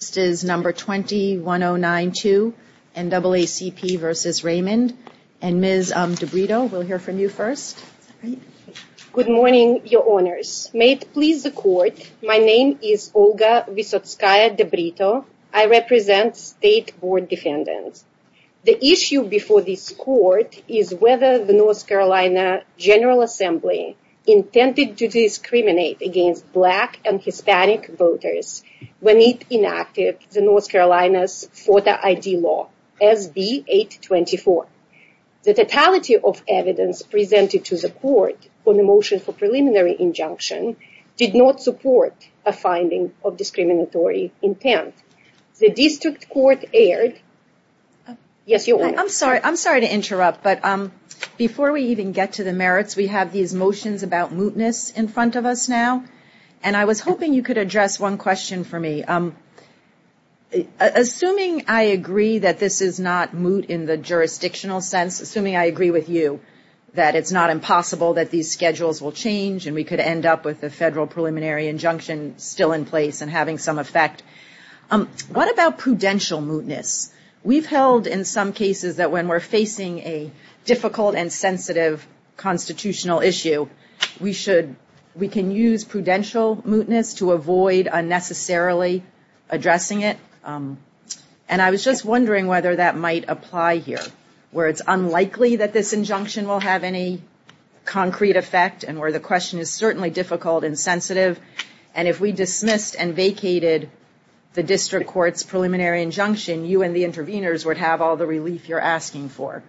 This is number 21092, NAACP v. Raymond. And Ms. DeBrito, we'll hear from you first. Good morning, Your Honors. May it please the Court, my name is Olga Visotskaya DeBrito. I represent State Board Defendants. The issue before this Court is whether the North Carolina General Assembly intended to discriminate against Black and Hispanic voters when it enacted the North Carolina's FOTA ID law, SB 824. The totality of evidence presented to the Court on the motion for preliminary injunction did not support a finding of discriminatory intent. The District Court erred. Yes, Your Honor. I'm sorry to interrupt, but before we even get to the merits, we have these motions about mootness in front of us now. And I was hoping you could address one question for me. Assuming I agree that this is not moot in the jurisdictional sense, assuming I agree with you, that it's not impossible that these schedules will change and we could end up with a federal preliminary injunction still in place and having some effect, what about prudential mootness? We've held in some cases that when we're facing a difficult and sensitive constitutional issue, we should, we can use prudential mootness to avoid unnecessarily addressing it. And I was just wondering whether that might apply here, where it's unlikely that this injunction will have any concrete effect and where the question is certainly difficult and sensitive. And if we dismissed and vacated the District Court's preliminary injunction, you and the interveners would have all the relief you're asking for.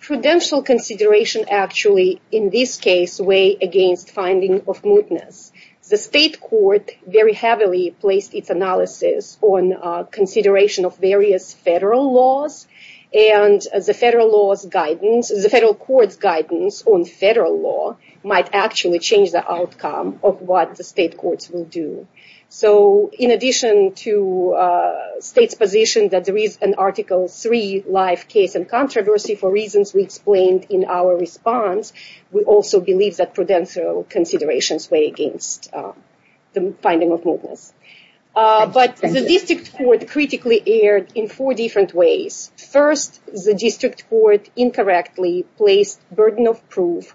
Prudential consideration actually, in this case, weigh against finding of mootness. The state court very heavily placed its analysis on consideration of various federal laws. And the federal law's guidance, the federal court's guidance on federal law might actually change the outcome of what the state courts will do. So in addition to states' position that there is an Article III life case and controversy for reasons we explained in our response, we also believe that prudential considerations weigh against the finding of mootness. But the District Court critically erred in four different ways. First, the District Court incorrectly placed burden of proof,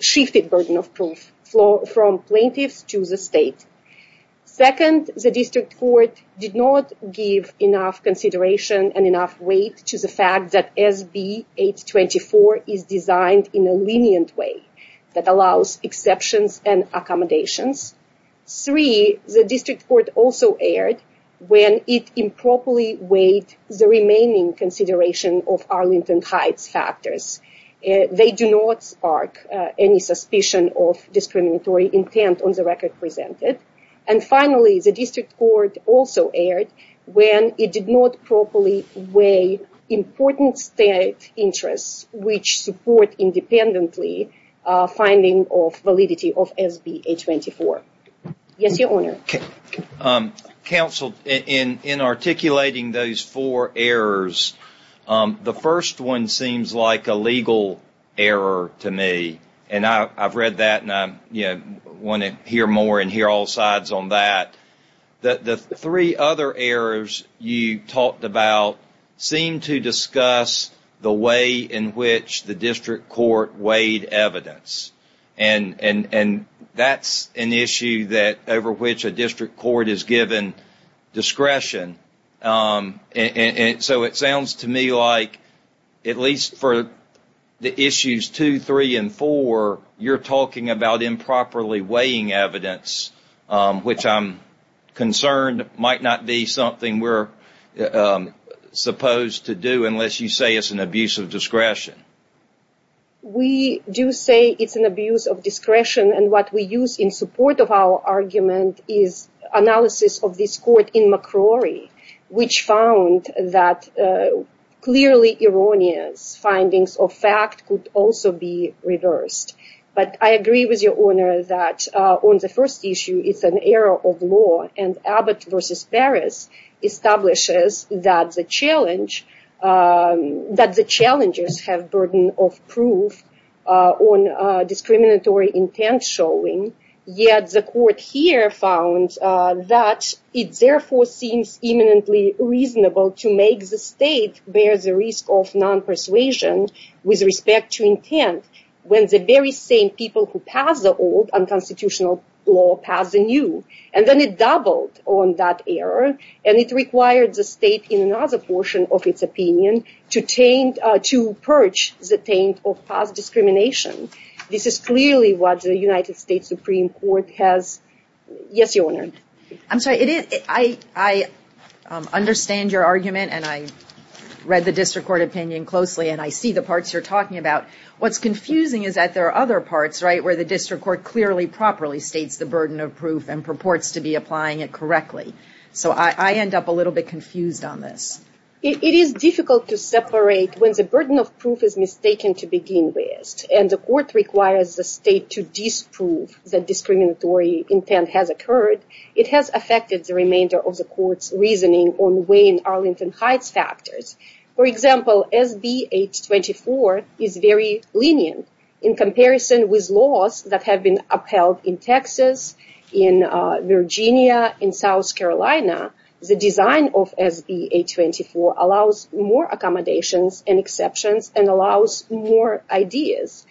shifted burden of proof from plaintiffs to the state. Second, the District Court did not give enough consideration and enough weight to the fact that SB 824 is designed in a lenient way that allows exceptions and accommodations. Three, the District Court also erred when it improperly weighed the remaining consideration of Arlington Heights factors. They do not spark any suspicion of discriminatory intent on the record presented. And finally, the District Court also erred when it did not properly weigh important state interests, which support independently finding of validity of SB 824. Yes, Your Honor. Counsel, in articulating those four errors, the first one seems like a legal error to me. And I've read that and I want to hear more and hear all sides on that. The three other errors you talked about seem to discuss the way in which the District Court weighed evidence. And that's an issue over which a District Court is given discretion. And so it sounds to me like at least for the issues two, three, and four, you're talking about improperly weighing evidence, which I'm concerned might not be something we're supposed to do unless you say it's an abuse of discretion. We do say it's an abuse of discretion. And what we use in support of our argument is analysis of this court in McCrory, which found that clearly erroneous findings of fact could also be reversed. But I agree with Your Honor that on the first issue, it's an error of law. And Abbott v. Paris establishes that the challengers have burden of proof on discriminatory intent showing. Yet the court here found that it therefore seems eminently reasonable to make the state bear the risk of non-persuasion with respect to intent when the very same people who pass the old unconstitutional law pass the new. And then it doubled on that error. And it required the state in another portion of its opinion to purge the taint of past discrimination. This is clearly what the United States Supreme Court has. Yes, Your Honor. I'm sorry. I understand your argument. And I read the District Court opinion closely. And I see the parts you're talking about. What's confusing is that there are other parts, right, where the District Court clearly, properly states the burden of proof and purports to be applying it correctly. So I end up a little bit confused on this. It is difficult to separate when the burden of proof is mistaken to begin with. And the court requires the state to disprove that discriminatory intent has occurred. It has affected the remainder of the court's reasoning on Wayne Arlington Heights factors. For example, SB 824 is very lenient in comparison with laws that have been upheld in Texas, in Virginia, in South Carolina. The design of SB 824 allows more accommodations and exceptions and allows more ideas.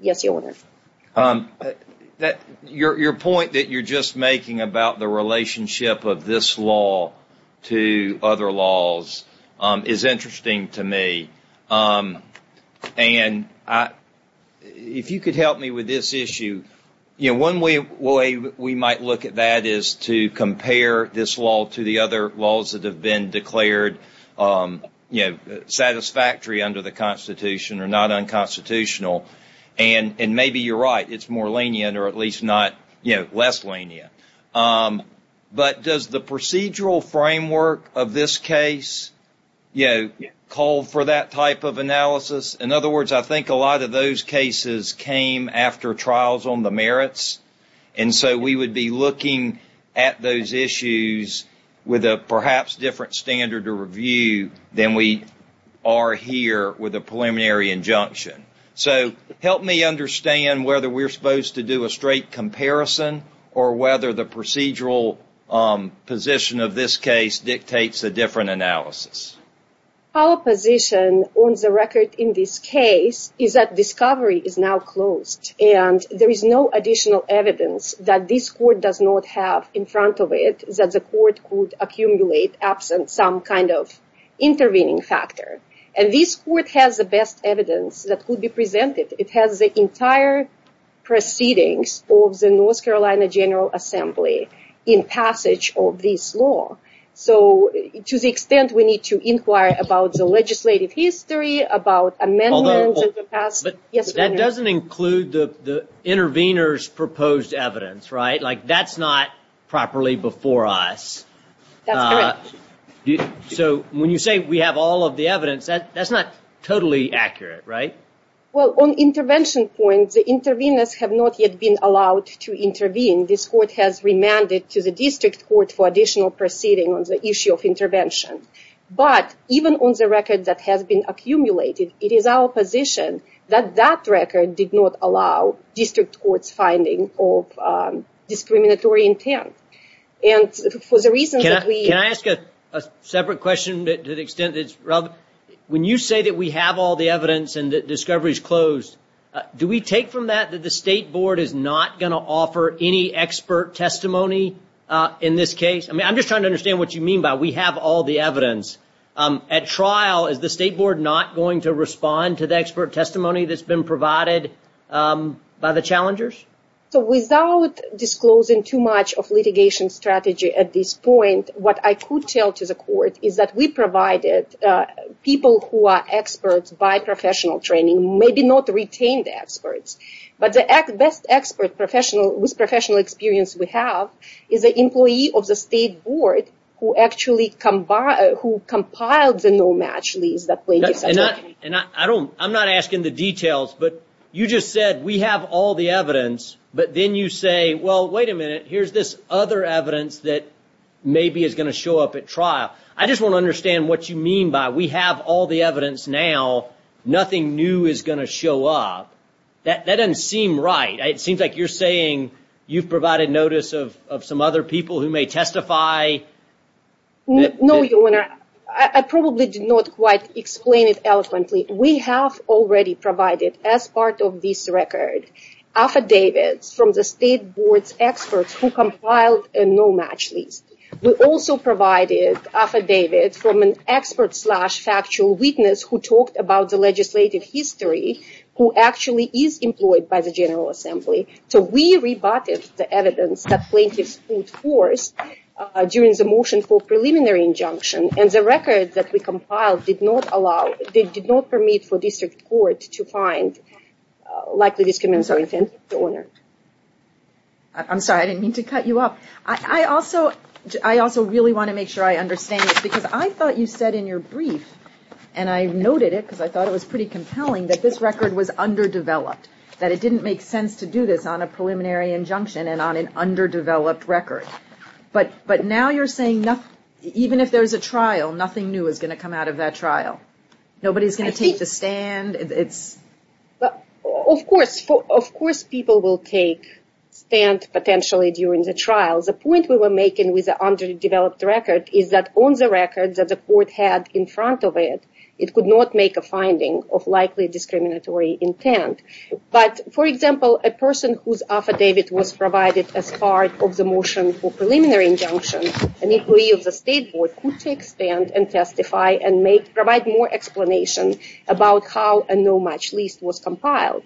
Yes, Your Honor. Your point that you're just making about the relationship of this law to other laws is interesting to me. And if you could help me with this issue. One way we might look at that is to compare this law to the other laws that have been declared satisfactory under the Constitution or not unconstitutional. And maybe you're right, it's more lenient or at least less lenient. But does the procedural framework of this case call for that type of analysis? In other words, I think a lot of those cases came after trials on the merits. And so we would be looking at those issues with a perhaps different standard of review than we are here with a preliminary injunction. So help me understand whether we're supposed to do a straight comparison or whether the procedural position of this case dictates a different analysis. Our position on the record in this case is that discovery is now closed. And there is no additional evidence that this court does not have in front of it that the court could accumulate absent some kind of intervening factor. And this court has the best evidence that could be presented. It has the entire proceedings of the North Carolina General Assembly in passage of this law. So to the extent we need to inquire about the legislative history, about amendments. That doesn't include the intervener's proposed evidence, right? That's not properly before us. That's correct. So when you say we have all of the evidence, that's not totally accurate, right? Well, on intervention points, the interveners have not yet been allowed to intervene. This court has remanded to the district court for additional proceeding on the issue of intervention. But even on the record that has been accumulated, it is our position that that record did not allow district court's finding of discriminatory intent. Can I ask a separate question to the extent that it's relevant? When you say that we have all the evidence and that discovery is closed, do we take from that that the State Board is not going to offer any expert testimony in this case? I mean, I'm just trying to understand what you mean by we have all the evidence. At trial, is the State Board not going to respond to the expert testimony that's been provided by the challengers? So without disclosing too much of litigation strategy at this point, what I could tell to the court is that we provided people who are experts by professional training, maybe not retained experts. But the best expert with professional experience we have is an employee of the State Board who actually compiled the no-match lease that plaintiff submitted. I'm not asking the details, but you just said we have all the evidence, but then you say, well, wait a minute, here's this other evidence that maybe is going to show up at trial. I just want to understand what you mean by we have all the evidence now, nothing new is going to show up. That doesn't seem right. It seems like you're saying you've provided notice of some other people who may testify. No, Your Honor. I probably did not quite explain it eloquently. We have already provided, as part of this record, affidavits from the State Board's experts who compiled a no-match lease. We also provided affidavits from an expert-slash-factual witness who talked about the legislative history who actually is employed by the General Assembly. So we rebutted the evidence that plaintiffs put forth during the motion for preliminary injunction, and the record that we compiled did not allow, did not permit for district court to find likely discriminatory offenses. I'm sorry, I didn't mean to cut you off. I also really want to make sure I understand this, because I thought you said in your brief, and I noted it because I thought it was pretty compelling, that this record was underdeveloped, that it didn't make sense to do this on a preliminary injunction and on an underdeveloped record. But now you're saying even if there's a trial, nothing new is going to come out of that trial? Nobody's going to take the stand? Of course people will take stand, potentially, during the trial. The point we were making with the underdeveloped record is that on the record that the court had in front of it, it could not make a finding of likely discriminatory intent. But, for example, a person whose affidavit was provided as part of the motion for preliminary injunction, an employee of the State Board could take stand and testify and provide more explanation about how a no match list was compiled.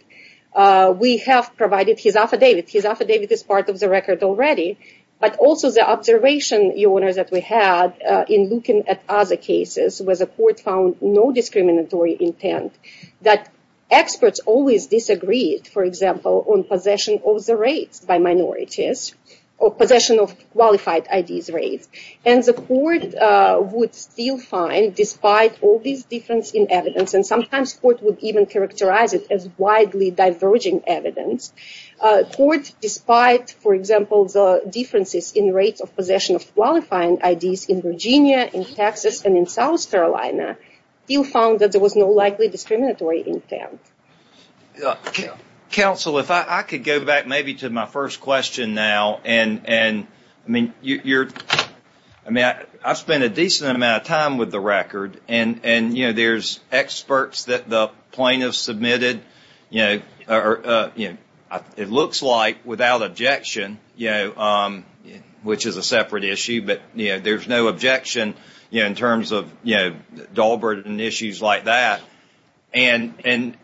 We have provided his affidavit. His affidavit is part of the record already. But also the observation that we had in looking at other cases was the court found no discriminatory intent, that experts always disagreed, for example, on possession of the rights by minorities, or possession of qualified IDs rights. And the court would still find, despite all this difference in evidence, and sometimes the court would even characterize it as widely diverging evidence, the court, despite, for example, the differences in rates of possession of qualifying IDs in Virginia, in Texas, and in South Carolina, still found that there was no likely discriminatory intent. Counsel, if I could go back maybe to my first question now, and I've spent a decent amount of time with the record, and there's experts that the plaintiffs submitted. It looks like, without objection, which is a separate issue, but there's no objection in terms of Dalbert and issues like that. And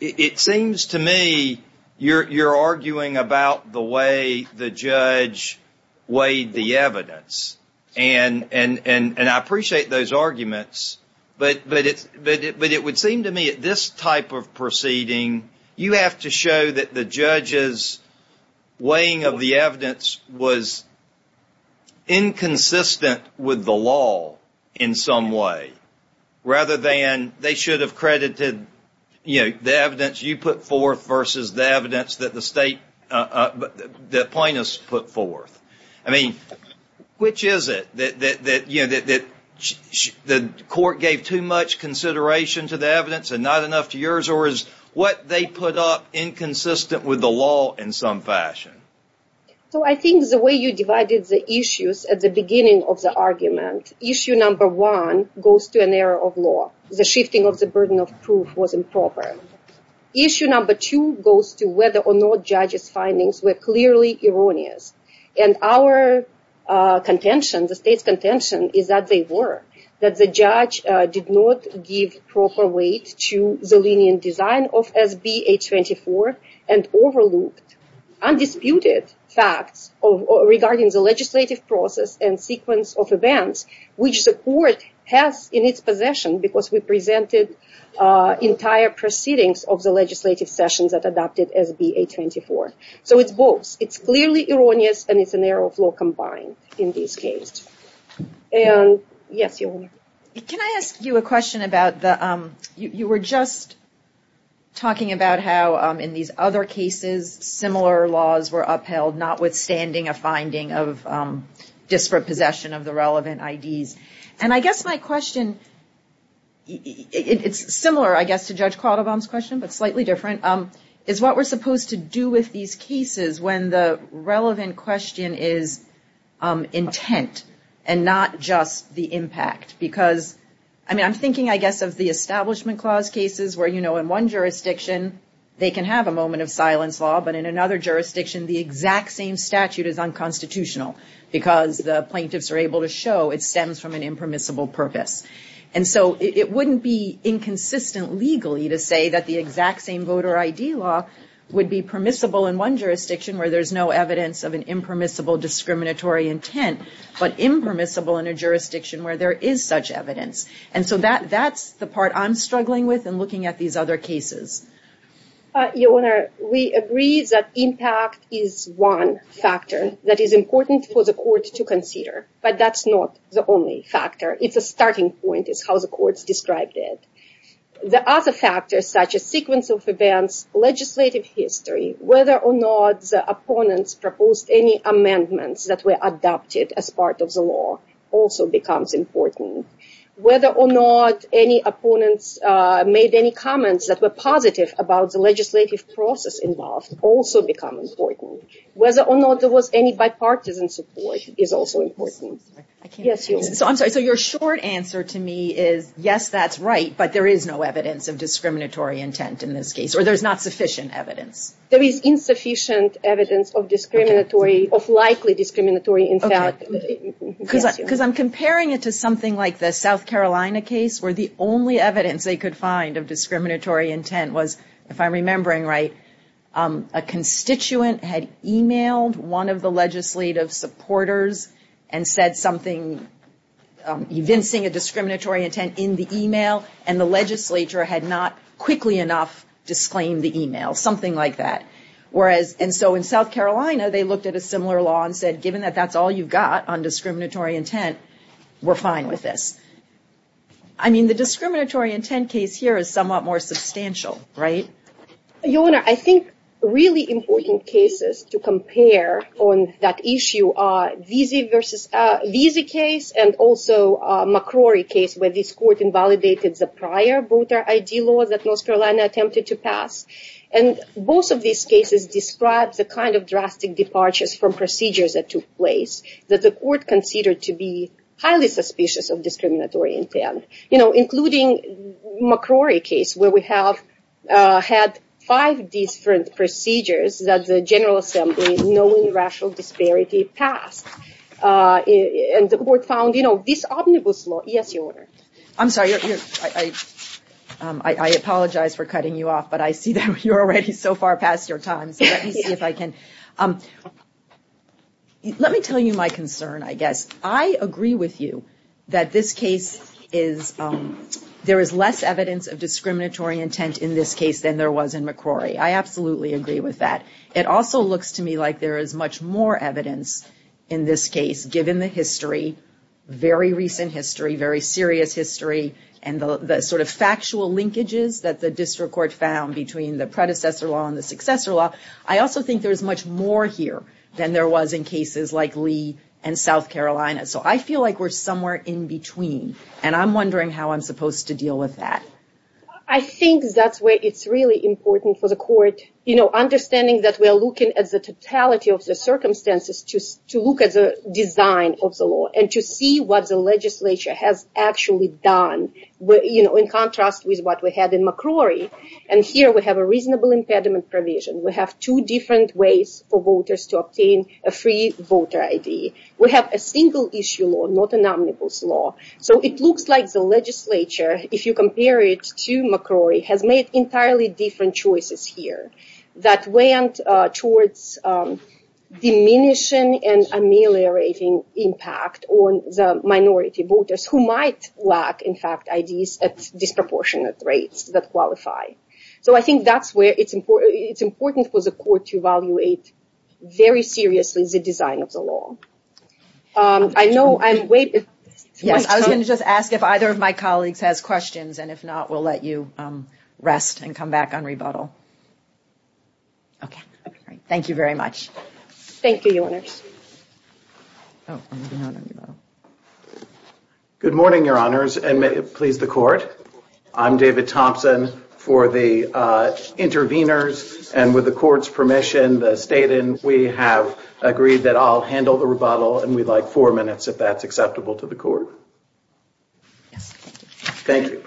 it seems to me you're arguing about the way the judge weighed the evidence. And I appreciate those arguments, but it would seem to me at this type of proceeding, you have to show that the judge's weighing of the evidence was inconsistent with the law in some way, rather than they should have credited the evidence you put forth versus the evidence that the plaintiffs put forth. I mean, which is it, that the court gave too much consideration to the evidence and not enough to yours, or is what they put up inconsistent with the law in some fashion? So I think the way you divided the issues at the beginning of the argument, issue number one goes to an error of law. The shifting of the burden of proof was improper. Issue number two goes to whether or not judges' findings were clearly erroneous. And our contention, the state's contention, is that they were. That the judge did not give proper weight to the lenient design of SB 824 and overlooked undisputed facts regarding the legislative process and sequence of events, which the court has in its possession because we presented entire proceedings of the legislative session that adopted SB 824. So it's both. It's clearly erroneous and it's an error of law combined in this case. And yes, Your Honor. Can I ask you a question about the, you were just talking about how in these other cases similar laws were upheld, notwithstanding a finding of disparate possession of the relevant IDs. And I guess my question, it's similar, I guess, to Judge Quattlebaum's question, but slightly different, is what we're supposed to do with these cases when the relevant question is intent and not just the impact. Because, I mean, I'm thinking, I guess, of the Establishment Clause cases where, you know, in one jurisdiction they can have a moment of silence law, but in another jurisdiction the exact same statute is unconstitutional because the plaintiffs are able to show it stems from an impermissible purpose. And so it wouldn't be inconsistent legally to say that the exact same voter ID law would be permissible in one jurisdiction where there's no evidence of an impermissible discriminatory intent, but impermissible in a jurisdiction where there is such evidence. And so that's the part I'm struggling with in looking at these other cases. Your Honor, we agree that impact is one factor that is important for the court to consider, but that's not the only factor. It's a starting point, is how the courts described it. The other factors, such as sequence of events, legislative history, whether or not the opponents proposed any amendments that were adopted as part of the law also becomes important. Whether or not any opponents made any comments that were positive about the legislative process involved also becomes important. Whether or not there was any bipartisan support is also important. I'm sorry, so your short answer to me is, yes, that's right, but there is no evidence of discriminatory intent in this case, or there's not sufficient evidence. There is insufficient evidence of likely discriminatory intent. Because I'm comparing it to something like the South Carolina case where the only evidence they could find of discriminatory intent was, if I'm remembering right, a constituent had emailed one of the legislative supporters and said something evincing a discriminatory intent in the email, and the legislature had not quickly enough disclaimed the email, something like that. And so in South Carolina, they looked at a similar law and said, given that that's all you've got on discriminatory intent, we're fine with this. I mean, the discriminatory intent case here is somewhat more substantial, right? Your Honor, I think really important cases to compare on that issue are Vesey case and also McCrory case, where this court invalidated the prior voter ID law that North Carolina attempted to pass. And both of these cases describe the kind of drastic departures from procedures that took place that the court considered to be highly suspicious of discriminatory intent, including McCrory case where we have had five different procedures that the General Assembly, knowing rational disparity, passed. And the court found this omnibus law. Yes, Your Honor. I'm sorry. I apologize for cutting you off, but I see that you're already so far past your time. Let me see if I can. Let me tell you my concern, I guess. I agree with you that this case is, there is less evidence of discriminatory intent in this case than there was in McCrory. I absolutely agree with that. It also looks to me like there is much more evidence in this case, given the history, very recent history, very serious history, and the sort of factual linkages that the district court found between the predecessor law and the successor law. I also think there is much more here than there was in cases like Lee and South Carolina. So I feel like we're somewhere in between. And I'm wondering how I'm supposed to deal with that. I think that's where it's really important for the court, you know, understanding that we're looking at the totality of the circumstances to look at the design of the law and to see what the legislature has actually done, you know, in contrast with what we had in McCrory. And here we have a reasonable impediment provision. We have two different ways for voters to obtain a free voter ID. We have a single issue law, not an omnibus law. So it looks like the legislature, if you compare it to McCrory, has made entirely different choices here that went towards diminishing and ameliorating impact on the minority voters who might lack, in fact, IDs at disproportionate rates that qualify. So I think that's where it's important. It's important for the court to evaluate very seriously the design of the law. I know I'm waiting. Yes, I was going to just ask if either of my colleagues has questions, and if not, we'll let you rest and come back on rebuttal. Okay. Thank you very much. Thank you, Your Honors. Good morning, Your Honors, and please, the court. I'm David Thompson for the interveners, and with the court's permission, the state, and we have agreed that I'll handle the rebuttal, and we'd like four minutes if that's acceptable to the court. Thank you.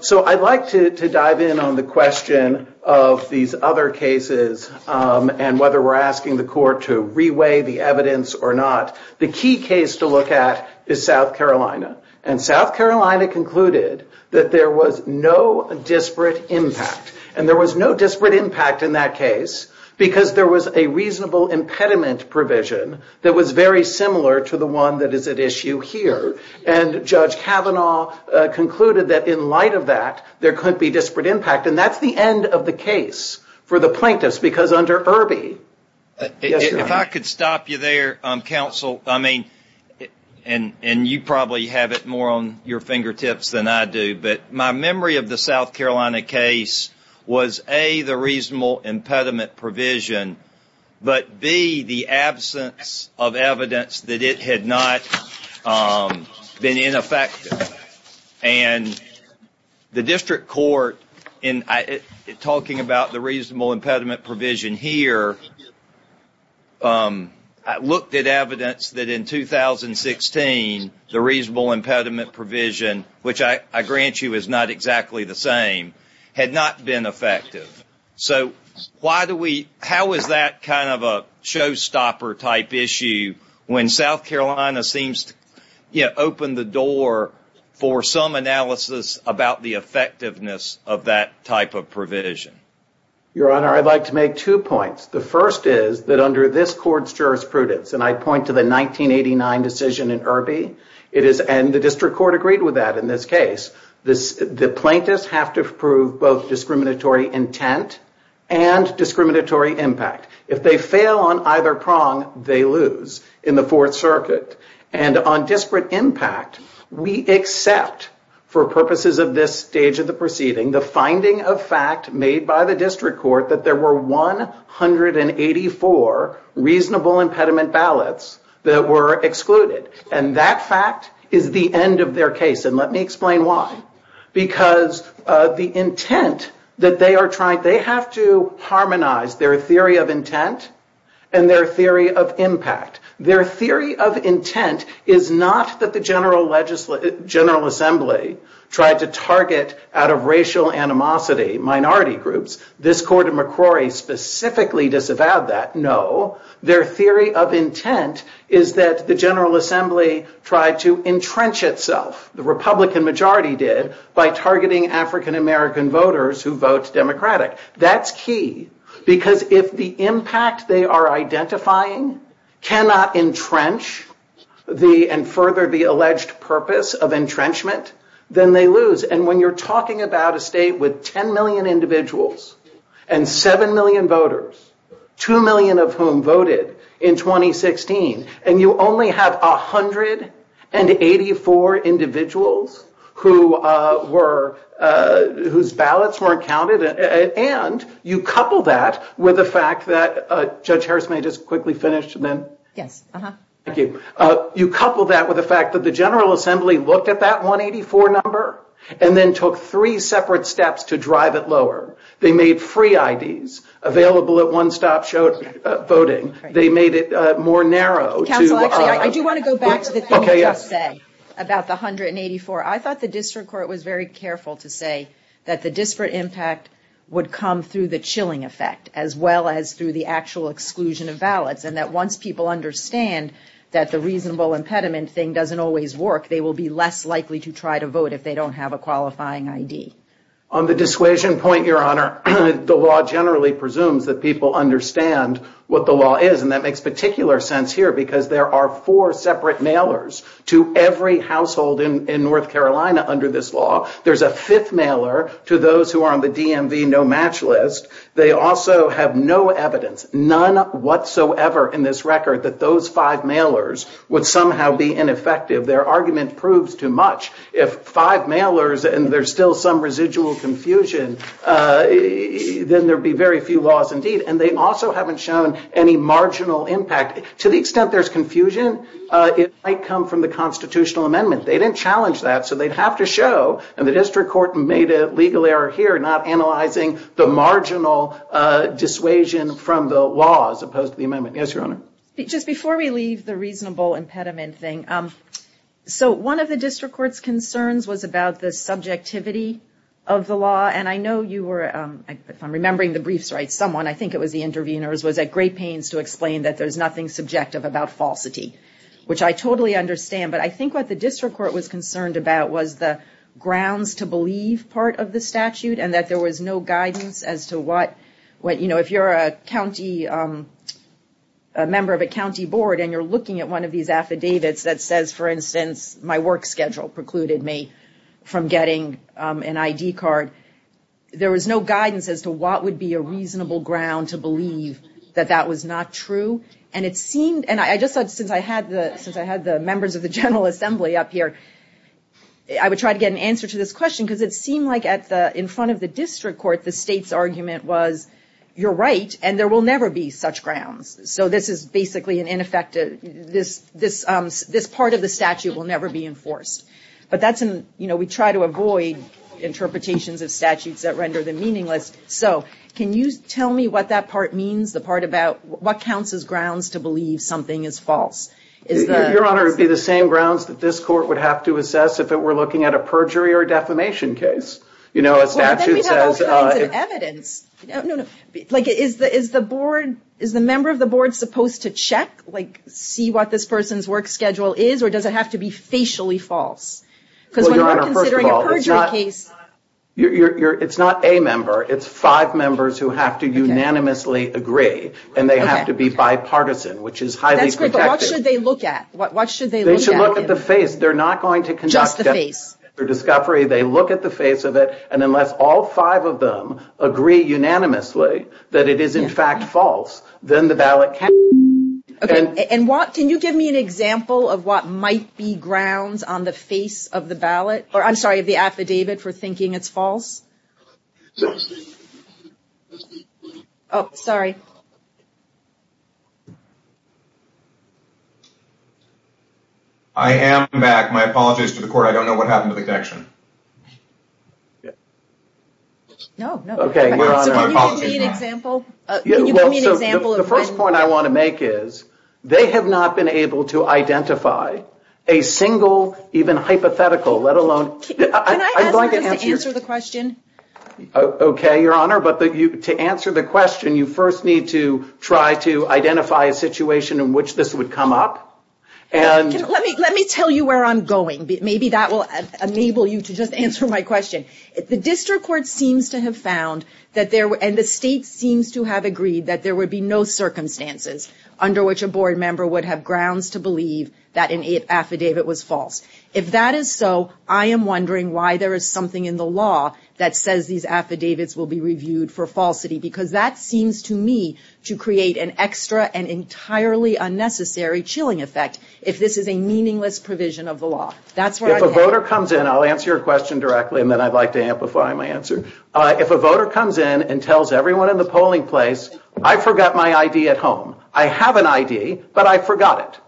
So I'd like to dive in on the question of these other cases and whether we're asking the court to reweigh the evidence or not. The key case to look at is South Carolina, and South Carolina concluded that there was no disparate impact, and there was no disparate impact in that case because there was a reasonable impediment provision that was very similar to the one that is at issue here, and Judge Kavanaugh concluded that in light of that, there could be disparate impact, and that's the end of the case for the plaintiffs because under Irby. If I could stop you there, counsel, I mean, and you probably have it more on your fingertips than I do, but my memory of the South Carolina case was, A, the reasonable impediment provision, but, B, the absence of evidence that it had not been ineffective, and the district court, in talking about the reasonable impediment provision here, looked at evidence that in 2016 the reasonable impediment provision, which I grant you is not exactly the same, had not been effective. So how is that kind of a showstopper type issue when South Carolina seems to open the door for some analysis about the effectiveness of that type of provision? Your Honor, I'd like to make two points. The first is that under this court's jurisprudence, and I point to the 1989 decision in Irby, and the district court agreed with that in this case, the plaintiffs have to prove both discriminatory intent and discriminatory impact. If they fail on either prong, they lose in the Fourth Circuit. And on disparate impact, we accept, for purposes of this stage of the proceeding, the finding of fact made by the district court that there were 184 reasonable impediment ballots that were excluded. And that fact is the end of their case. And let me explain why. Because the intent that they are trying, they have to harmonize their theory of intent and their theory of impact. Their theory of intent is not that the General Assembly tried to target out of racial animosity minority groups. This court in McCrory specifically disavowed that. No, their theory of intent is that the General Assembly tried to entrench itself. The Republican majority did, by targeting African-American voters who vote Democratic. That's key, because if the impact they are identifying cannot entrench and further the alleged purpose of entrenchment, then they lose. And when you're talking about a state with 10 million individuals and 7 million voters, 2 million of whom voted in 2016, and you only have 184 individuals whose ballots weren't counted, and you couple that with the fact that the General Assembly looked at that 184 number and then took three separate steps to drive it lower. They made free IDs available at one-stop voting. They made it more narrow. Counsel, actually, I do want to go back to the thing you just said about the 184. I thought the district court was very careful to say that the disparate impact would come through the chilling effect, as well as through the actual exclusion of ballots, and that once people understand that the reasonable impediment thing doesn't always work, they will be less likely to try to vote if they don't have a qualifying ID. On the dissuasion point, Your Honor, the law generally presumes that people understand what the law is, and that makes particular sense here, because there are four separate mailers to every household in North Carolina under this law. There's a fifth mailer to those who are on the DMV no-match list. They also have no evidence, none whatsoever in this record, that those five mailers would somehow be ineffective. Their argument proves too much. If five mailers and there's still some residual confusion, then there'd be very few laws indeed, and they also haven't shown any marginal impact. To the extent there's confusion, it might come from the constitutional amendment. They didn't challenge that, so they'd have to show, and the district court made a legal error here, not analyzing the marginal dissuasion from the law as opposed to the amendment. Yes, Your Honor. Just before we leave the reasonable impediment thing, so one of the district court's concerns was about the subjectivity of the law, and I know you were, if I'm remembering the briefs right, someone, I think it was the interveners, was at great pains to explain that there's nothing subjective about falsity, which I totally understand, but I think what the district court was concerned about was the grounds to believe part of the statute and that there was no guidance as to what, you know, if you're a member of a county board and you're looking at one of these affidavits that says, for instance, my work schedule precluded me from getting an ID card, there was no guidance as to what would be a reasonable ground to believe that that was not true, and it seemed, and I just thought since I had the members of the General Assembly up here, I would try to get an answer to this question because it seemed like in front of the district court, the state's argument was, you're right, and there will never be such grounds. So this is basically an ineffective, this part of the statute will never be enforced. But that's, you know, we try to avoid interpretations of statutes that render them meaningless. So can you tell me what that part means, the part about what counts as grounds to believe something is false? Your Honor, it would be the same grounds that this court would have to assess if it were looking at a perjury or defamation case, you know, a statute says. There's all kinds of evidence. No, no, like is the board, is the member of the board supposed to check, like see what this person's work schedule is, or does it have to be facially false? Because when we're considering a perjury case. It's not a member, it's five members who have to unanimously agree, and they have to be bipartisan, which is highly protected. That's great, but what should they look at? What should they look at? They should look at the face. They're not going to conduct. Just the face. Their discovery, they look at the face of it. And unless all five of them agree unanimously that it is in fact false, then the ballot can't. And what can you give me an example of what might be grounds on the face of the ballot? Or I'm sorry, the affidavit for thinking it's false. Oh, sorry. I am back. My apologies to the court. I don't know what happened to the connection. No, no. Can you give me an example? The first point I want to make is they have not been able to identify a single even hypothetical, let alone. Can I ask you to answer the question? Okay, Your Honor, but to answer the question, you first need to try to identify a situation in which this would come up. Let me tell you where I'm going. Maybe that will enable you to just answer my question. The district court seems to have found and the state seems to have agreed that there would be no circumstances under which a board member would have grounds to believe that an affidavit was false. If that is so, I am wondering why there is something in the law that says these affidavits will be reviewed for falsity, because that seems to me to create an extra and entirely unnecessary chilling effect if this is a meaningless provision of the law. That's where I'm headed. If a voter comes in, I'll answer your question directly and then I'd like to amplify my answer. If a voter comes in and tells everyone in the polling place, I forgot my ID at home. I have an ID, but I forgot it.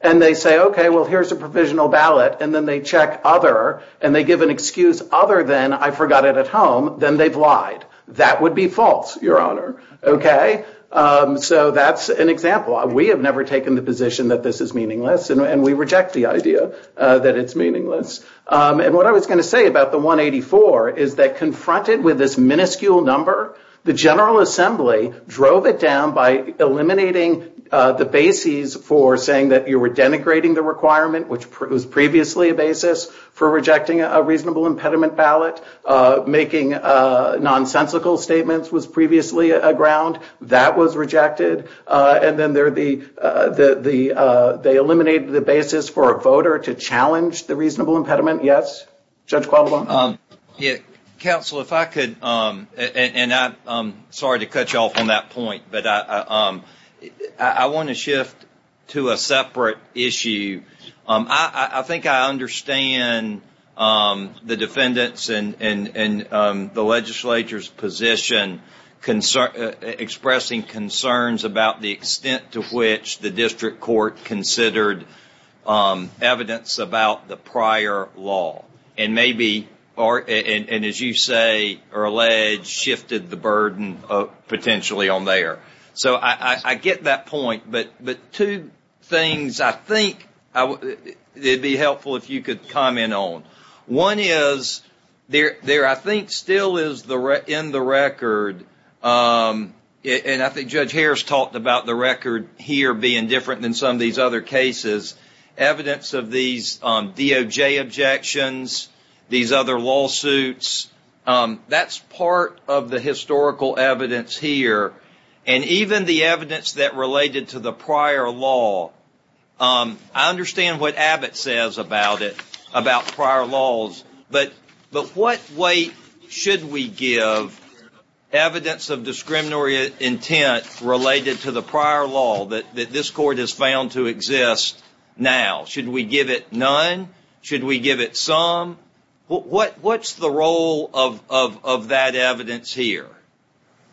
And they say, okay, well, here's a provisional ballot. And then they check other and they give an excuse other than I forgot it at home. Then they've lied. That would be false, Your Honor. Okay. So that's an example. We have never taken the position that this is meaningless and we reject the idea that it's meaningless. And what I was going to say about the 184 is that confronted with this minuscule number, the General Assembly drove it down by eliminating the bases for saying that you were denigrating the requirement, which was previously a basis for rejecting a reasonable impediment ballot. Making nonsensical statements was previously a ground that was rejected. And then there are the the the they eliminated the basis for a voter to challenge the reasonable impediment. Yes. Judge. Yeah. Counsel, if I could. And I'm sorry to cut you off on that point, but I want to shift to a separate issue. I think I understand the defendants and the legislature's position, expressing concerns about the extent to which the district court considered evidence about the prior law. And maybe or and as you say, or alleged shifted the burden potentially on there. So I get that point. But but two things, I think it'd be helpful if you could comment on one is there. There I think still is the in the record. And I think Judge Harris talked about the record here being different than some of these other cases. Evidence of these DOJ objections, these other lawsuits. That's part of the historical evidence here. And even the evidence that related to the prior law. I understand what Abbott says about it, about prior laws. But but what weight should we give evidence of discriminatory intent related to the prior law? That this court has found to exist now, should we give it none? Should we give it some? What what's the role of of of that evidence here?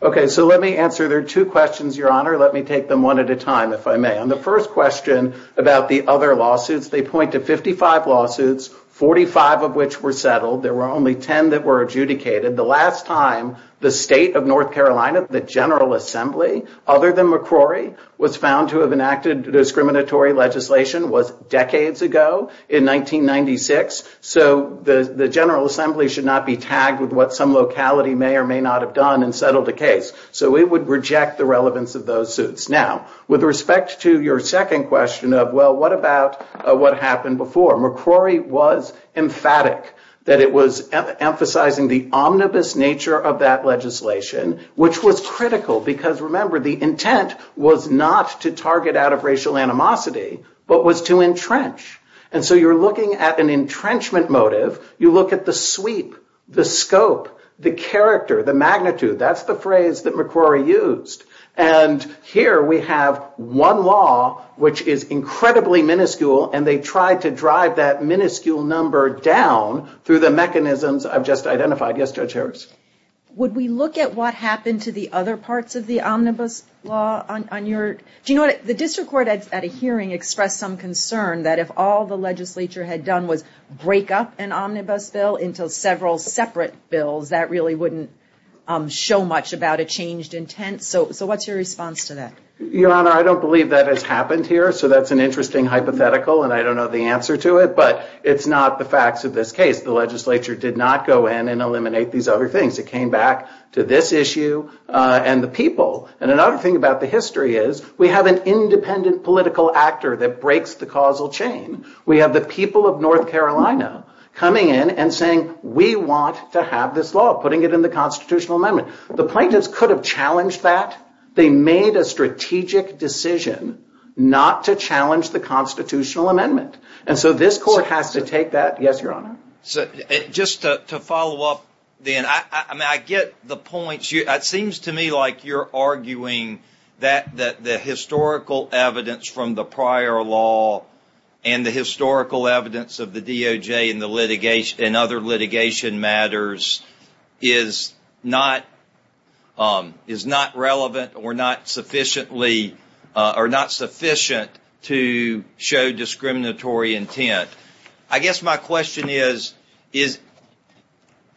OK, so let me answer. There are two questions, Your Honor. Let me take them one at a time, if I may. And the first question about the other lawsuits, they point to 55 lawsuits, 45 of which were settled. There were only 10 that were adjudicated. The last time the state of North Carolina, the General Assembly, other than McCrory, was found to have enacted discriminatory legislation was decades ago in 1996. So the General Assembly should not be tagged with what some locality may or may not have done and settled a case. So we would reject the relevance of those suits. Now, with respect to your second question of, well, what about what happened before? McCrory was emphatic that it was emphasizing the omnibus nature of that legislation, which was critical because, remember, the intent was not to target out of racial animosity, but was to entrench. And so you're looking at an entrenchment motive. You look at the sweep, the scope, the character, the magnitude. That's the phrase that McCrory used. And here we have one law which is incredibly minuscule. And they tried to drive that minuscule number down through the mechanisms I've just identified. Yes, Judge Harris. Would we look at what happened to the other parts of the omnibus law on your – do you know what? The district court at a hearing expressed some concern that if all the legislature had done was break up an omnibus bill into several separate bills, that really wouldn't show much about a changed intent. So what's your response to that? Your Honor, I don't believe that has happened here, so that's an interesting hypothetical, and I don't know the answer to it. But it's not the facts of this case. The legislature did not go in and eliminate these other things. It came back to this issue and the people. And another thing about the history is we have an independent political actor that breaks the causal chain. We have the people of North Carolina coming in and saying, we want to have this law, putting it in the constitutional amendment. The plaintiffs could have challenged that. They made a strategic decision not to challenge the constitutional amendment. And so this court has to take that. Yes, Your Honor. Just to follow up then, I get the points. It seems to me like you're arguing that the historical evidence from the prior law and the historical evidence of the DOJ and other litigation matters is not relevant or not sufficient to show discriminatory intent. I guess my question is,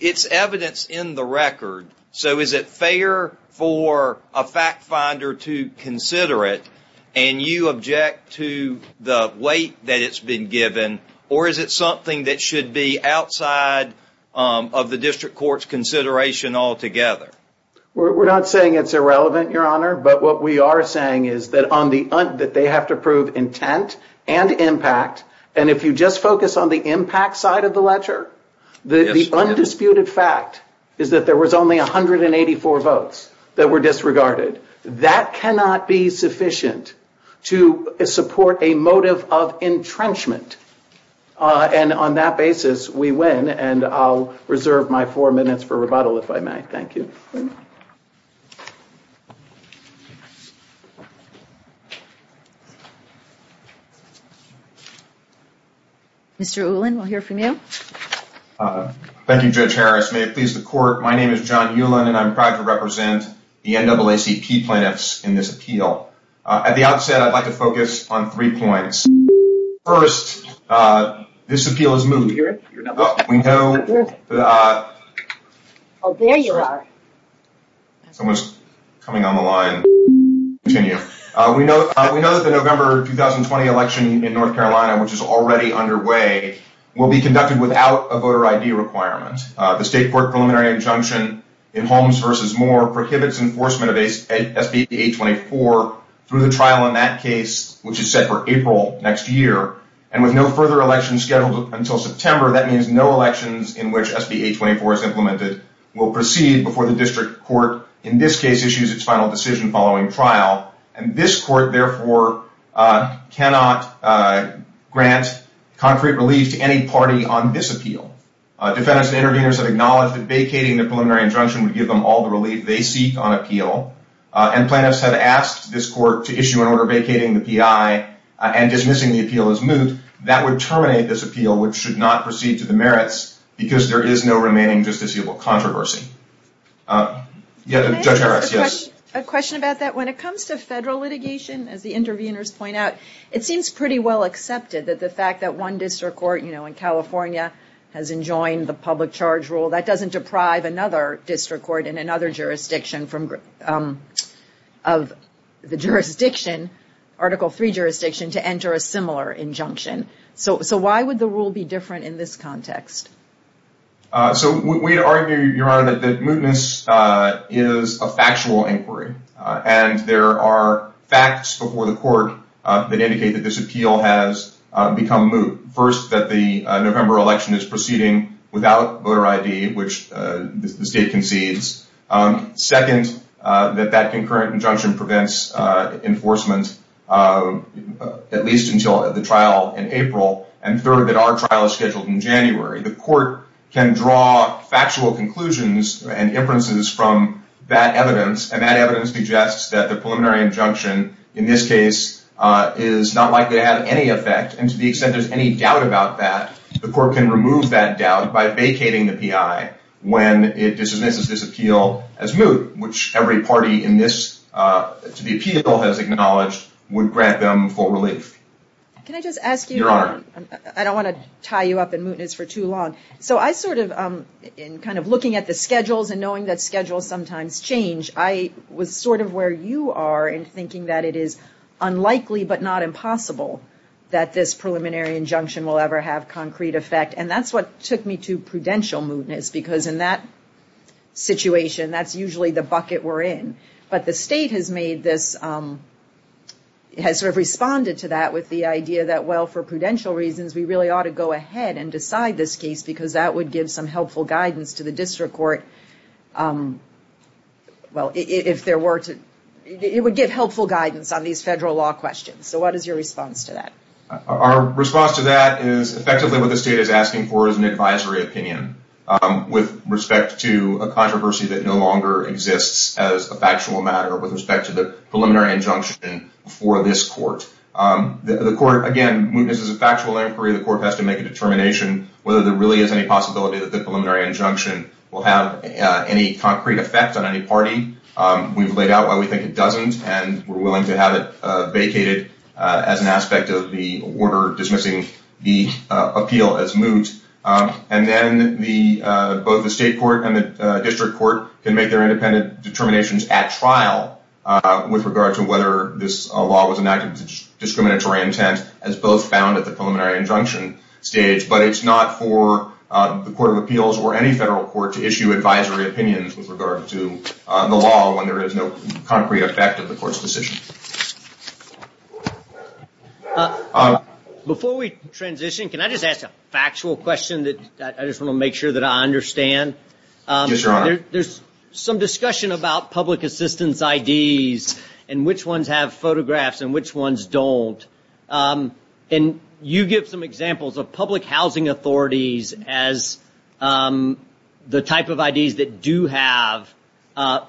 it's evidence in the record, so is it fair for a fact finder to consider it and you object to the weight that it's been given? Or is it something that should be outside of the district court's consideration altogether? We're not saying it's irrelevant, Your Honor. But what we are saying is that they have to prove intent and impact. And if you just focus on the impact side of the ledger, the undisputed fact is that there was only 184 votes that were disregarded. That cannot be sufficient to support a motive of entrenchment. And on that basis, we win. And I'll reserve my four minutes for rebuttal, if I may. Thank you. Mr. Ulan, we'll hear from you. Thank you, Judge Harris. My name is John Ulan, and I'm proud to represent the NAACP plaintiffs in this appeal. At the outset, I'd like to focus on three points. First, this appeal is moved. We know that the November 2020 election in North Carolina, which is already underway, will be conducted without a voter ID requirement. The state court preliminary injunction in Holmes v. Moore prohibits enforcement of SB824 through the trial in that case, which is set for April next year. And with no further elections scheduled until September, that means no elections in which SB824 is implemented will proceed before the district court, in this case, issues its final decision following trial. And this court, therefore, cannot grant concrete relief to any party on this appeal. Defendants and interveners have acknowledged that vacating the preliminary injunction would give them all the relief they seek on appeal. And plaintiffs have asked this court to issue an order vacating the PI and dismissing the appeal as moved. That would terminate this appeal, which should not proceed to the merits, because there is no remaining justiciable controversy. Can I ask a question about that? When it comes to federal litigation, as the interveners point out, it seems pretty well accepted that the fact that one district court, you know, in California has enjoined the public charge rule, that doesn't deprive another district court in another jurisdiction of the jurisdiction, Article III jurisdiction, to enter a similar injunction. So why would the rule be different in this context? So we argue, Your Honor, that mootness is a factual inquiry. And there are facts before the court that indicate that this appeal has become moot. First, that the November election is proceeding without voter ID, which the state concedes. Second, that that concurrent injunction prevents enforcement, at least until the trial in April. And third, that our trial is scheduled in January. The court can draw factual conclusions and inferences from that evidence, and that evidence suggests that the preliminary injunction in this case is not likely to have any effect. And to the extent there's any doubt about that, the court can remove that doubt by vacating the PI when it dismisses this appeal as moot, which every party in this, to the appeal, has acknowledged would grant them full relief. Can I just ask you? Your Honor. I don't want to tie you up in mootness for too long. So I sort of, in kind of looking at the schedules and knowing that schedules sometimes change, I was sort of where you are in thinking that it is unlikely but not impossible that this preliminary injunction will ever have concrete effect. And that's what took me to prudential mootness, because in that situation, that's usually the bucket we're in. But the state has made this, has sort of responded to that with the idea that, well, for prudential reasons, we really ought to go ahead and decide this case because that would give some helpful guidance to the district court. Well, if there were to, it would give helpful guidance on these federal law questions. So what is your response to that? Our response to that is effectively what the state is asking for is an advisory opinion with respect to a controversy that no longer exists as a factual matter with respect to the preliminary injunction for this court. The court, again, mootness is a factual inquiry. The court has to make a determination whether there really is any possibility that the preliminary injunction will have any concrete effect on any party. We've laid out why we think it doesn't, and we're willing to have it vacated as an aspect of the order dismissing the appeal as moot. And then both the state court and the district court can make their independent determinations at trial with regard to whether this law was enacted with discriminatory intent as both found at the preliminary injunction stage. But it's not for the Court of Appeals or any federal court to issue advisory opinions with regard to the law when there is no concrete effect of the court's decision. Before we transition, can I just ask a factual question that I just want to make sure that I understand? Yes, Your Honor. There's some discussion about public assistance IDs and which ones have photographs and which ones don't. And you give some examples of public housing authorities as the type of IDs that do have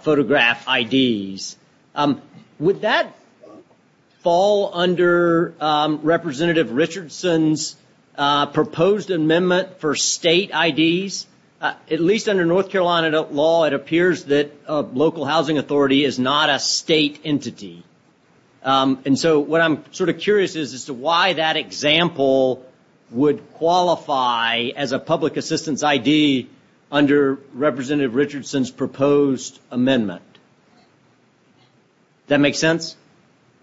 photograph IDs. Would that fall under Representative Richardson's proposed amendment for state IDs? At least under North Carolina law, it appears that a local housing authority is not a state entity. And so what I'm sort of curious is as to why that example would qualify as a public assistance ID under Representative Richardson's proposed amendment. Does that make sense?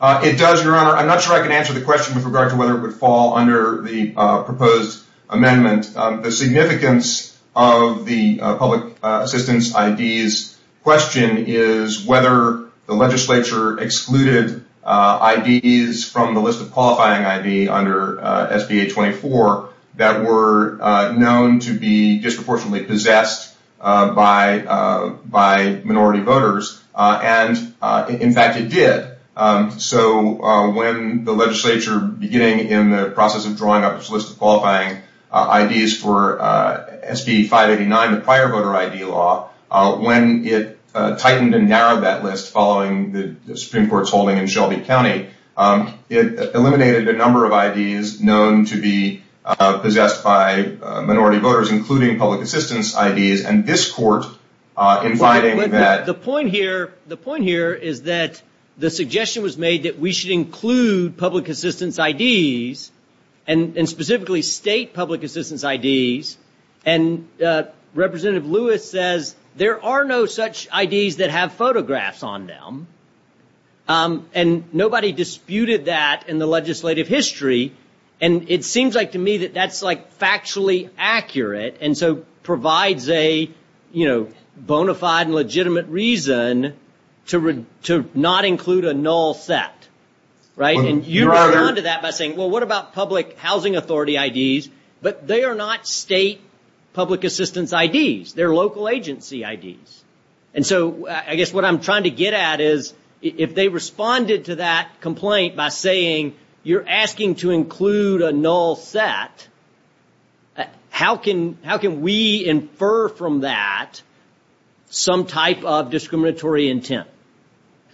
It does, Your Honor. I'm not sure I can answer the question with regard to whether it would fall under the proposed amendment. The significance of the public assistance IDs question is whether the legislature excluded IDs from the list of qualifying ID under SB 824 that were known to be disproportionately possessed by minority voters. And, in fact, it did. So when the legislature, beginning in the process of drawing up its list of qualifying IDs for SB 589, prior voter ID law, when it tightened and narrowed that list following the Supreme Court's holding in Shelby County, it eliminated a number of IDs known to be possessed by minority voters, including public assistance IDs. And this Court, in finding that- The point here is that the suggestion was made that we should include public assistance IDs, and specifically state public assistance IDs. And Representative Lewis says there are no such IDs that have photographs on them. And nobody disputed that in the legislative history. And it seems like to me that that's, like, factually accurate and so provides a, you know, bona fide and legitimate reason to not include a null set. And you responded to that by saying, well, what about public housing authority IDs? But they are not state public assistance IDs. They're local agency IDs. And so I guess what I'm trying to get at is if they responded to that complaint by saying you're asking to include a null set, how can we infer from that some type of discriminatory intent?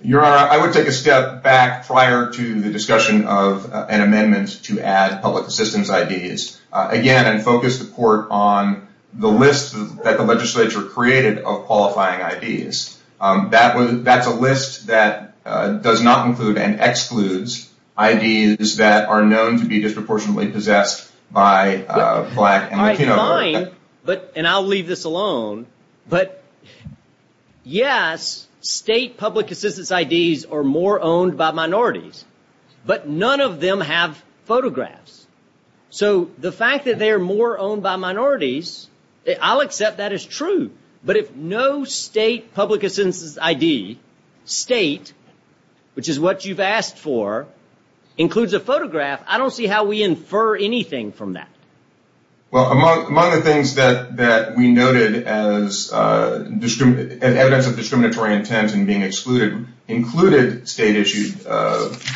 Your Honor, I would take a step back prior to the discussion of an amendment to add public assistance IDs, again, and focus the Court on the list that the legislature created of qualifying IDs. That's a list that does not include and excludes IDs that are known to be disproportionately possessed by black and Latino voters. And I'll leave this alone, but, yes, state public assistance IDs are more owned by minorities. But none of them have photographs. So the fact that they are more owned by minorities, I'll accept that as true. But if no state public assistance ID, state, which is what you've asked for, includes a photograph, I don't see how we infer anything from that. Well, among the things that we noted as evidence of discriminatory intent and being excluded included state-issued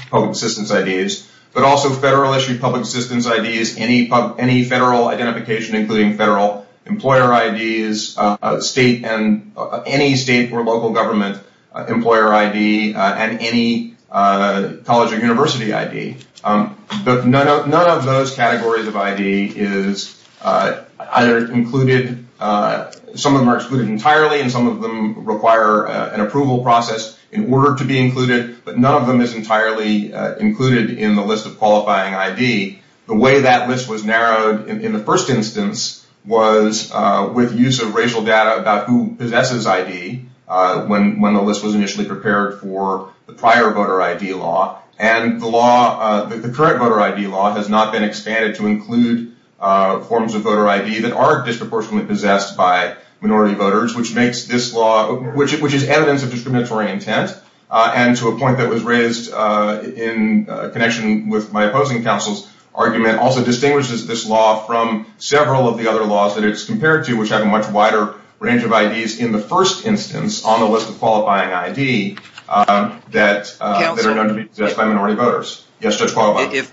public assistance IDs, but also federal-issued public assistance IDs, any federal identification, including federal employer IDs, state and any state or local government employer ID, and any college or university ID. But none of those categories of ID is either included. Some of them are excluded entirely, and some of them require an approval process in order to be included, but none of them is entirely included in the list of qualifying ID. The way that list was narrowed in the first instance was with use of racial data about who possesses ID when the list was initially prepared for the prior voter ID law. And the law, the current voter ID law, has not been expanded to include forms of voter ID that are disproportionately possessed by minority voters, which makes this law, which is evidence of discriminatory intent, and to a point that was raised in connection with my opposing counsel's argument, also distinguishes this law from several of the other laws that it's compared to, which have a much wider range of IDs in the first instance on the list of qualifying ID that are known to be possessed by minority voters. Yes, Judge Qualifying?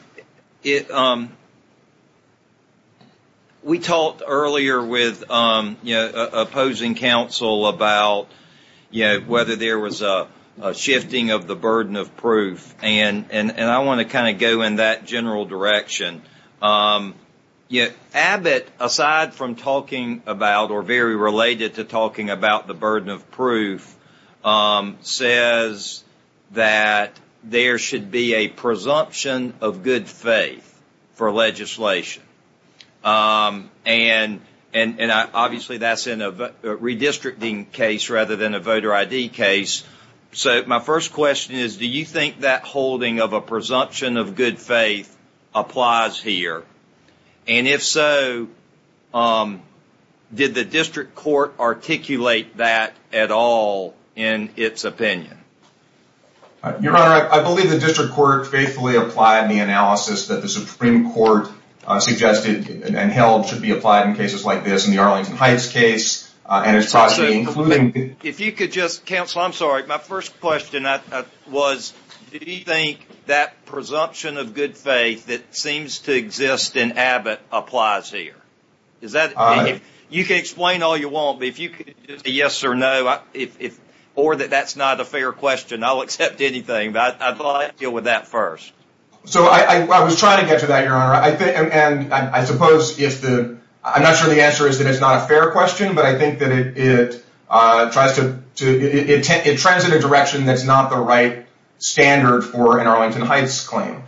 We talked earlier with opposing counsel about whether there was a shifting of the burden of proof, and I want to kind of go in that general direction. Abbott, aside from talking about or very related to talking about the burden of proof, says that there should be a presumption of good faith for legislation. And obviously that's in a redistricting case rather than a voter ID case. So my first question is, do you think that holding of a presumption of good faith applies here? And if so, did the district court articulate that at all in its opinion? Your Honor, I believe the district court faithfully applied the analysis that the Supreme Court suggested and held should be applied in cases like this. If you could just counsel, I'm sorry. My first question was, do you think that presumption of good faith that seems to exist in Abbott applies here? You can explain all you want, but if you could say yes or no, or that that's not a fair question, I'll accept anything. But I'd like to deal with that first. So I was trying to get to that, Your Honor. I'm not sure the answer is that it's not a fair question, but I think that it trends in a direction that's not the right standard for an Arlington Heights claim.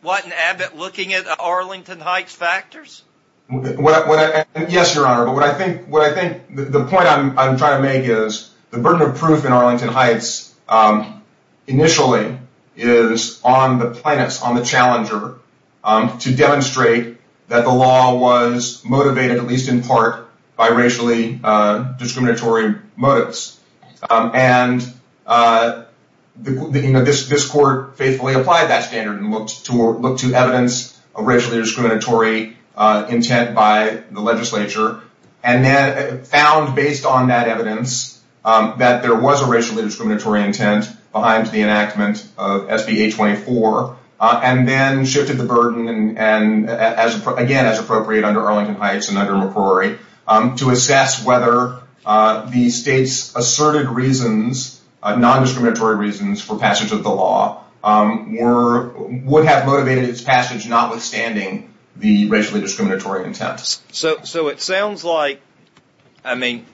What in Abbott looking at Arlington Heights factors? Yes, Your Honor. But what I think the point I'm trying to make is the burden of proof in Arlington Heights initially is on the plaintiffs, on the challenger, to demonstrate that the law was motivated, at least in part, by racially discriminatory motives. And this court faithfully applied that standard and looked to evidence of racially discriminatory intent by the legislature, and then found, based on that evidence, that there was a racially discriminatory intent behind the enactment of SB 824, and then shifted the burden, and again, as appropriate under Arlington Heights and under McCrory, to assess whether the state's asserted reasons, non-discriminatory reasons for passage of the law, would have motivated its passage notwithstanding the racially discriminatory intent. So it sounds like, I mean,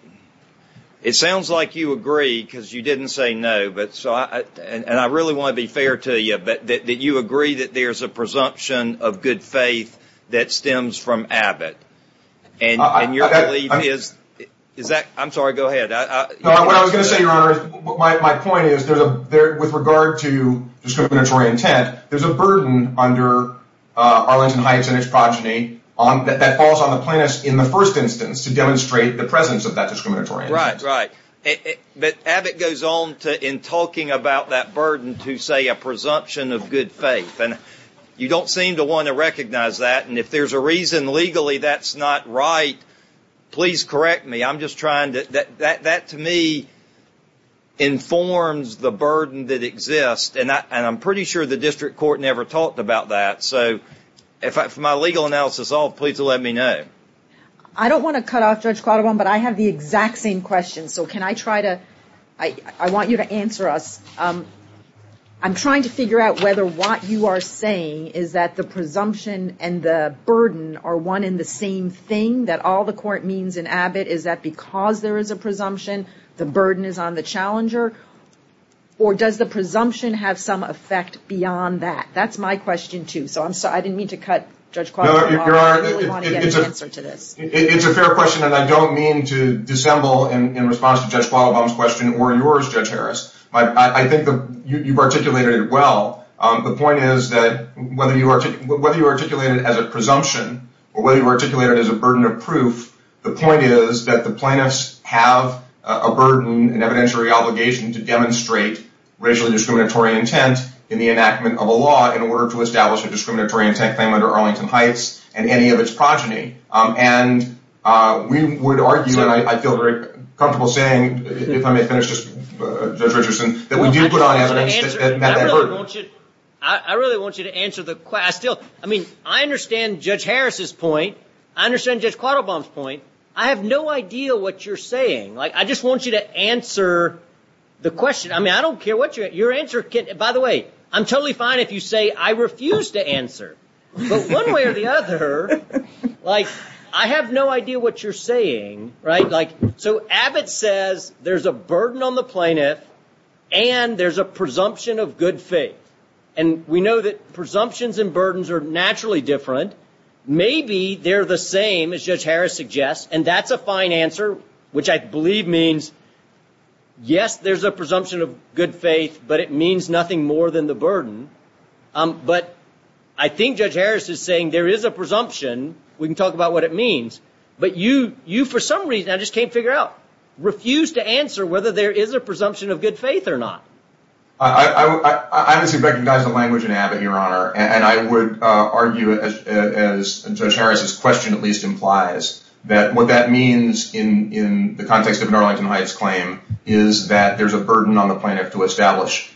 it sounds like you agree, because you didn't say no, and I really want to be fair to you, that you agree that there's a presumption of good faith that stems from Abbott. And your belief is, I'm sorry, go ahead. No, what I was going to say, Your Honor, my point is, with regard to discriminatory intent, there's a burden under Arlington Heights and its progeny that falls on the plaintiffs in the first instance to demonstrate the presence of that discriminatory intent. Right, right. But Abbott goes on to, in talking about that burden, to say a presumption of good faith. And you don't seem to want to recognize that, and if there's a reason legally that's not right, please correct me. I'm just trying to, that to me informs the burden that exists, and I'm pretty sure the district court never talked about that. So if my legal analysis is off, please let me know. I don't want to cut off Judge Quattrobon, but I have the exact same question. So can I try to, I want you to answer us. I'm trying to figure out whether what you are saying is that the presumption and the burden are one in the same thing, that all the court means in Abbott is that because there is a presumption, the burden is on the challenger, or does the presumption have some effect beyond that? That's my question, too. So I'm sorry, I didn't mean to cut Judge Quattrobon off. I really want to get an answer to this. It's a fair question, and I don't mean to dissemble in response to Judge Quattrobon's question or yours, Judge Harris. I think that you've articulated it well. The point is that whether you articulate it as a presumption or whether you articulate it as a burden of proof, the point is that the plaintiffs have a burden, an evidentiary obligation to demonstrate racially discriminatory intent in the enactment of a law in order to establish a discriminatory intent claim under Arlington Heights and any of its progeny. And we would argue, and I feel very comfortable saying, if I may finish, Judge Richardson, that we do put on evidence that that burden. I really want you to answer the question. I mean, I understand Judge Harris's point. I understand Judge Quattrobon's point. I have no idea what you're saying. I just want you to answer the question. By the way, I'm totally fine if you say, I refuse to answer. But one way or the other, I have no idea what you're saying. So Abbott says there's a burden on the plaintiff and there's a presumption of good faith. And we know that presumptions and burdens are naturally different. Maybe they're the same, as Judge Harris suggests, and that's a fine answer, which I believe means, yes, there's a presumption of good faith, but it means nothing more than the burden. But I think Judge Harris is saying there is a presumption. We can talk about what it means. But you, for some reason, I just can't figure out, refuse to answer whether there is a presumption of good faith or not. I honestly recognize the language in Abbott, Your Honor. And I would argue, as Judge Harris's question at least implies, that what that means in the context of an Arlington Heights claim, is that there's a burden on the plaintiff to establish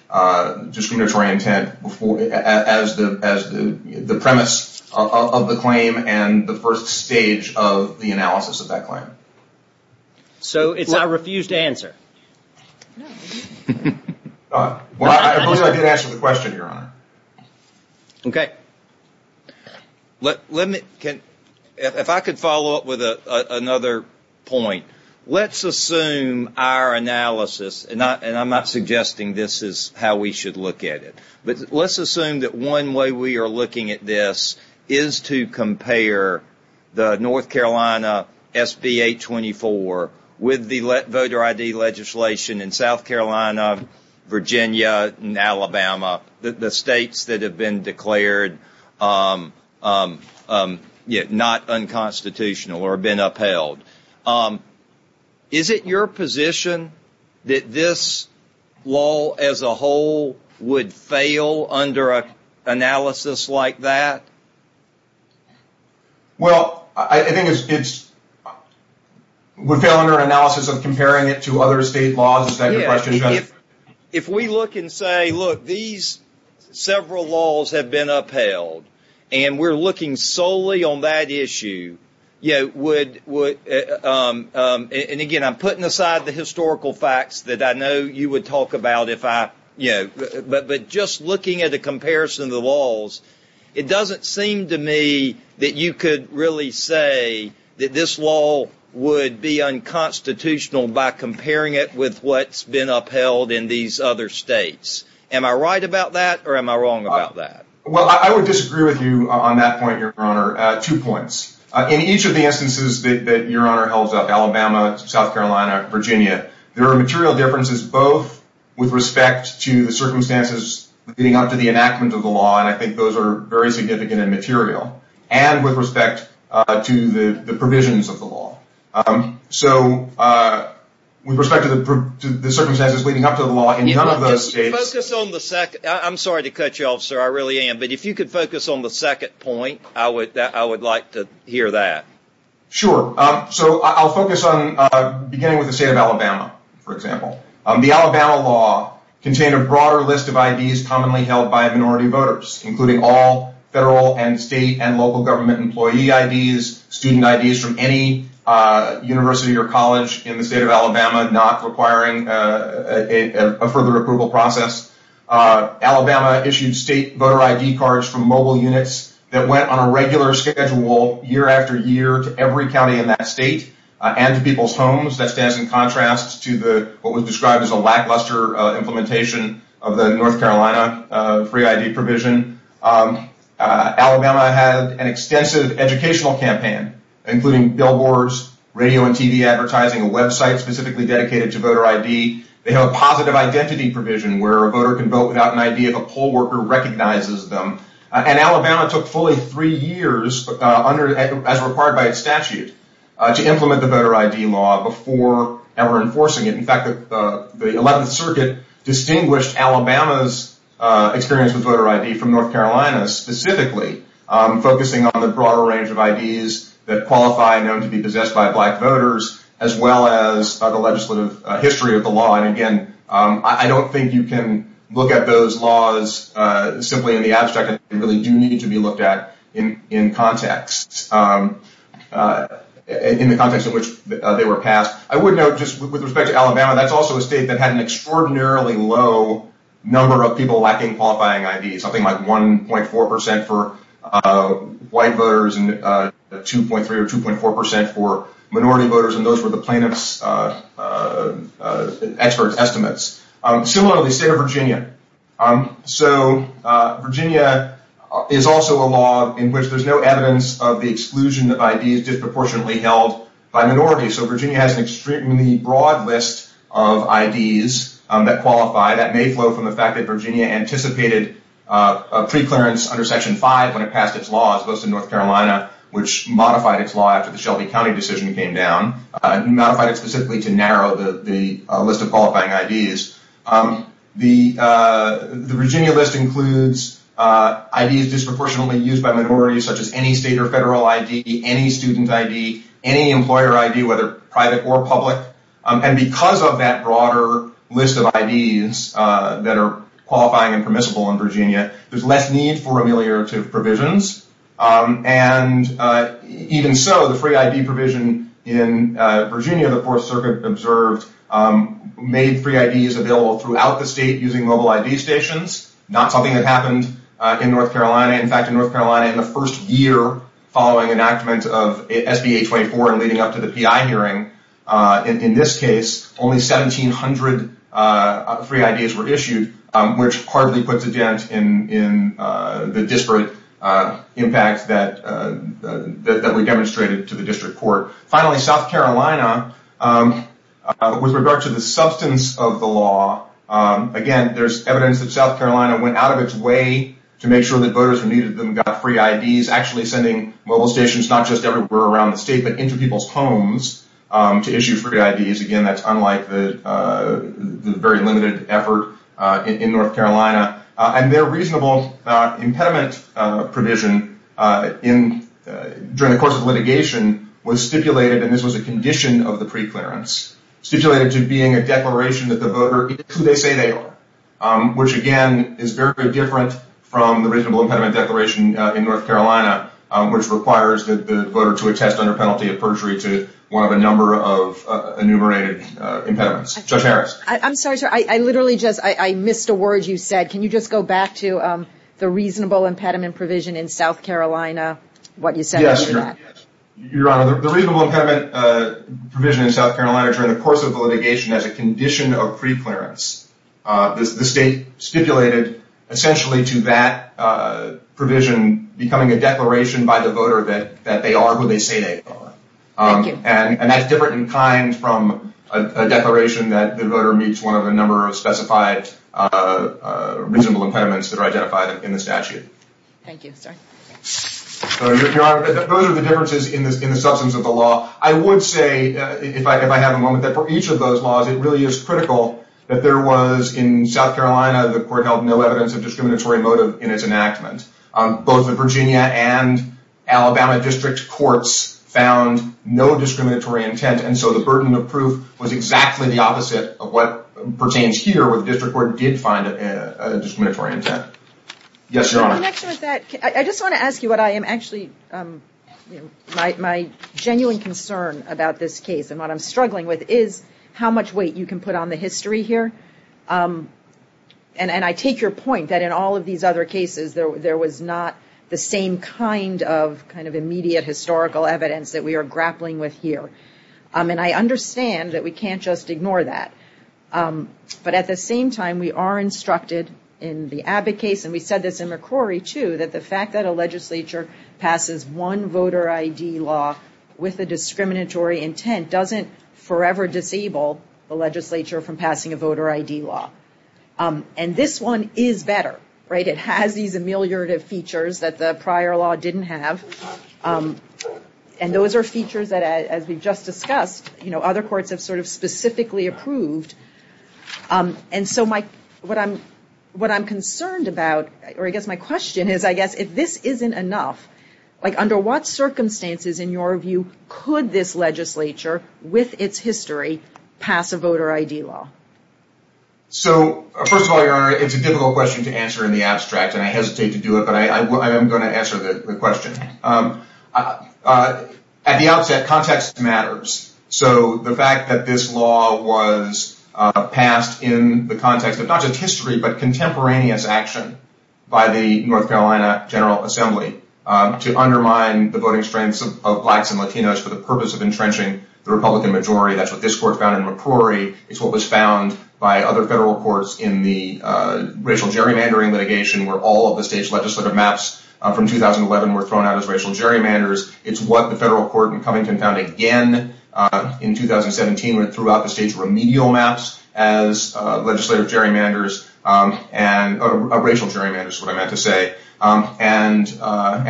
discriminatory intent as the premise of the claim and the first stage of the analysis of that claim. Well, at least I did answer the question, Your Honor. Okay. Let me, if I could follow up with another point. Let's assume our analysis, and I'm not suggesting this is how we should look at it, but let's assume that one way we are looking at this is to compare the North Carolina SB 824 with the voter ID legislation in South Carolina, Virginia, and Alabama, the states that have been declared not unconstitutional or been upheld. Is it your position that this law as a whole would fail under an analysis like that? Well, I think it would fail under an analysis of comparing it to other state laws. Is that your question, Judge? If we look and say, look, these several laws have been upheld, and we're looking solely on that issue, and again, I'm putting aside the historical facts that I know you would talk about, but just looking at a comparison of the laws, it doesn't seem to me that you could really say that this law would be unconstitutional by comparing it with what's been upheld in these other states. Am I right about that, or am I wrong about that? Well, I would disagree with you on that point, Your Honor, two points. In each of the instances that Your Honor holds up, Alabama, South Carolina, Virginia, there are material differences both with respect to the circumstances leading up to the enactment of the law, and I think those are very significant and material, and with respect to the provisions of the law. So with respect to the circumstances leading up to the law, in none of those states— Just focus on the second—I'm sorry to cut you off, sir, I really am, but if you could focus on the second point, I would like to hear that. Sure. So I'll focus on beginning with the state of Alabama, for example. The Alabama law contained a broader list of IDs commonly held by minority voters, including all federal and state and local government employee IDs, student IDs from any university or college in the state of Alabama not requiring a further approval process. Alabama issued state voter ID cards from mobile units that went on a regular schedule year after year to every county in that state and to people's homes. That stands in contrast to what was described as a lackluster implementation of the North Carolina free ID provision. Alabama had an extensive educational campaign, including billboards, radio and TV advertising, a website specifically dedicated to voter ID. They have a positive identity provision where a voter can vote without an ID if a poll worker recognizes them. And Alabama took fully three years, as required by its statute, to implement the voter ID law before ever enforcing it. In fact, the 11th Circuit distinguished Alabama's experience with voter ID from North Carolina, specifically focusing on the broader range of IDs that qualify known to be possessed by black voters, as well as the legislative history of the law. And again, I don't think you can look at those laws simply in the abstract. They really do need to be looked at in context, in the context in which they were passed. I would note just with respect to Alabama, that's also a state that had an extraordinarily low number of people lacking qualifying IDs, something like 1.4 percent for white voters and 2.3 or 2.4 percent for minority voters. And those were the plaintiff's expert estimates. Similarly, the state of Virginia. So, Virginia is also a law in which there's no evidence of the exclusion of IDs disproportionately held by minorities. So, Virginia has an extremely broad list of IDs that qualify. That may flow from the fact that Virginia anticipated a preclearance under Section 5 when it passed its laws, which modified its law after the Shelby County decision came down, and modified it specifically to narrow the list of qualifying IDs. The Virginia list includes IDs disproportionately used by minorities, such as any state or federal ID, any student ID, any employer ID, whether private or public. And because of that broader list of IDs that are qualifying and permissible in Virginia, there's less need for ameliorative provisions. And even so, the free ID provision in Virginia, the Fourth Circuit observed, made free IDs available throughout the state using mobile ID stations. Not something that happened in North Carolina. In fact, in North Carolina, in the first year following enactment of SBA 24 and leading up to the PI hearing, in this case, only 1,700 free IDs were issued, which hardly puts a dent in the disparate impact that we demonstrated to the district court. Finally, South Carolina, with regard to the substance of the law, again, there's evidence that South Carolina went out of its way to make sure that voters who needed them got free IDs, actually sending mobile stations not just everywhere around the state, but into people's homes to issue free IDs. Again, that's unlike the very limited effort in North Carolina. And their reasonable impediment provision during the course of litigation was stipulated, and this was a condition of the preclearance, stipulated to being a declaration that the voter is who they say they are, which, again, is very, very different from the reasonable impediment declaration in North Carolina, which requires the voter to attest under penalty of perjury to one of a number of enumerated impediments. Judge Harris? I'm sorry, sir, I literally just, I missed a word you said. Can you just go back to the reasonable impediment provision in South Carolina, what you said after that? Yes, Your Honor. The reasonable impediment provision in South Carolina during the course of the litigation as a condition of preclearance, the state stipulated essentially to that provision becoming a declaration by the voter that they are who they say they are. Thank you. And that's different in kind from a declaration that the voter meets one of a number of specified reasonable impediments that are identified in the statute. Thank you, sir. Your Honor, those are the differences in the substance of the law. I would say, if I have a moment, that for each of those laws it really is critical that there was, in South Carolina, the court held no evidence of discriminatory motive in its enactment. Both the Virginia and Alabama district courts found no discriminatory intent, and so the burden of proof was exactly the opposite of what pertains here where the district court did find a discriminatory intent. Yes, Your Honor. In connection with that, I just want to ask you what I am actually, my genuine concern about this case and what I'm struggling with is how much weight you can put on the history here. And I take your point that in all of these other cases there was not the same kind of kind of immediate historical evidence that we are grappling with here. And I understand that we can't just ignore that. But at the same time, we are instructed in the Abbott case, and we said this in McCrory too, that the fact that a legislature passes one voter ID law with a discriminatory intent doesn't forever disable the legislature from passing a voter ID law. And this one is better, right? It has these ameliorative features that the prior law didn't have. And those are features that, as we've just discussed, other courts have sort of specifically approved. And so what I'm concerned about, or I guess my question is, I guess, if this isn't enough, under what circumstances in your view could this legislature with its history pass a voter ID law? So, first of all, Your Honor, it's a difficult question to answer in the abstract, and I hesitate to do it, but I am going to answer the question. At the outset, context matters. So the fact that this law was passed in the context of not just history but contemporaneous action by the North Carolina General Assembly to undermine the voting strengths of blacks and Latinos for the purpose of entrenching the Republican majority, that's what this court found in McCrory, it's what was found by other federal courts in the racial gerrymandering litigation where all of the state's legislative maps from 2011 were thrown out as racial gerrymanders. It's what the federal court in Covington found again in 2017, where it threw out the state's remedial maps as racial gerrymanders, is what I meant to say. And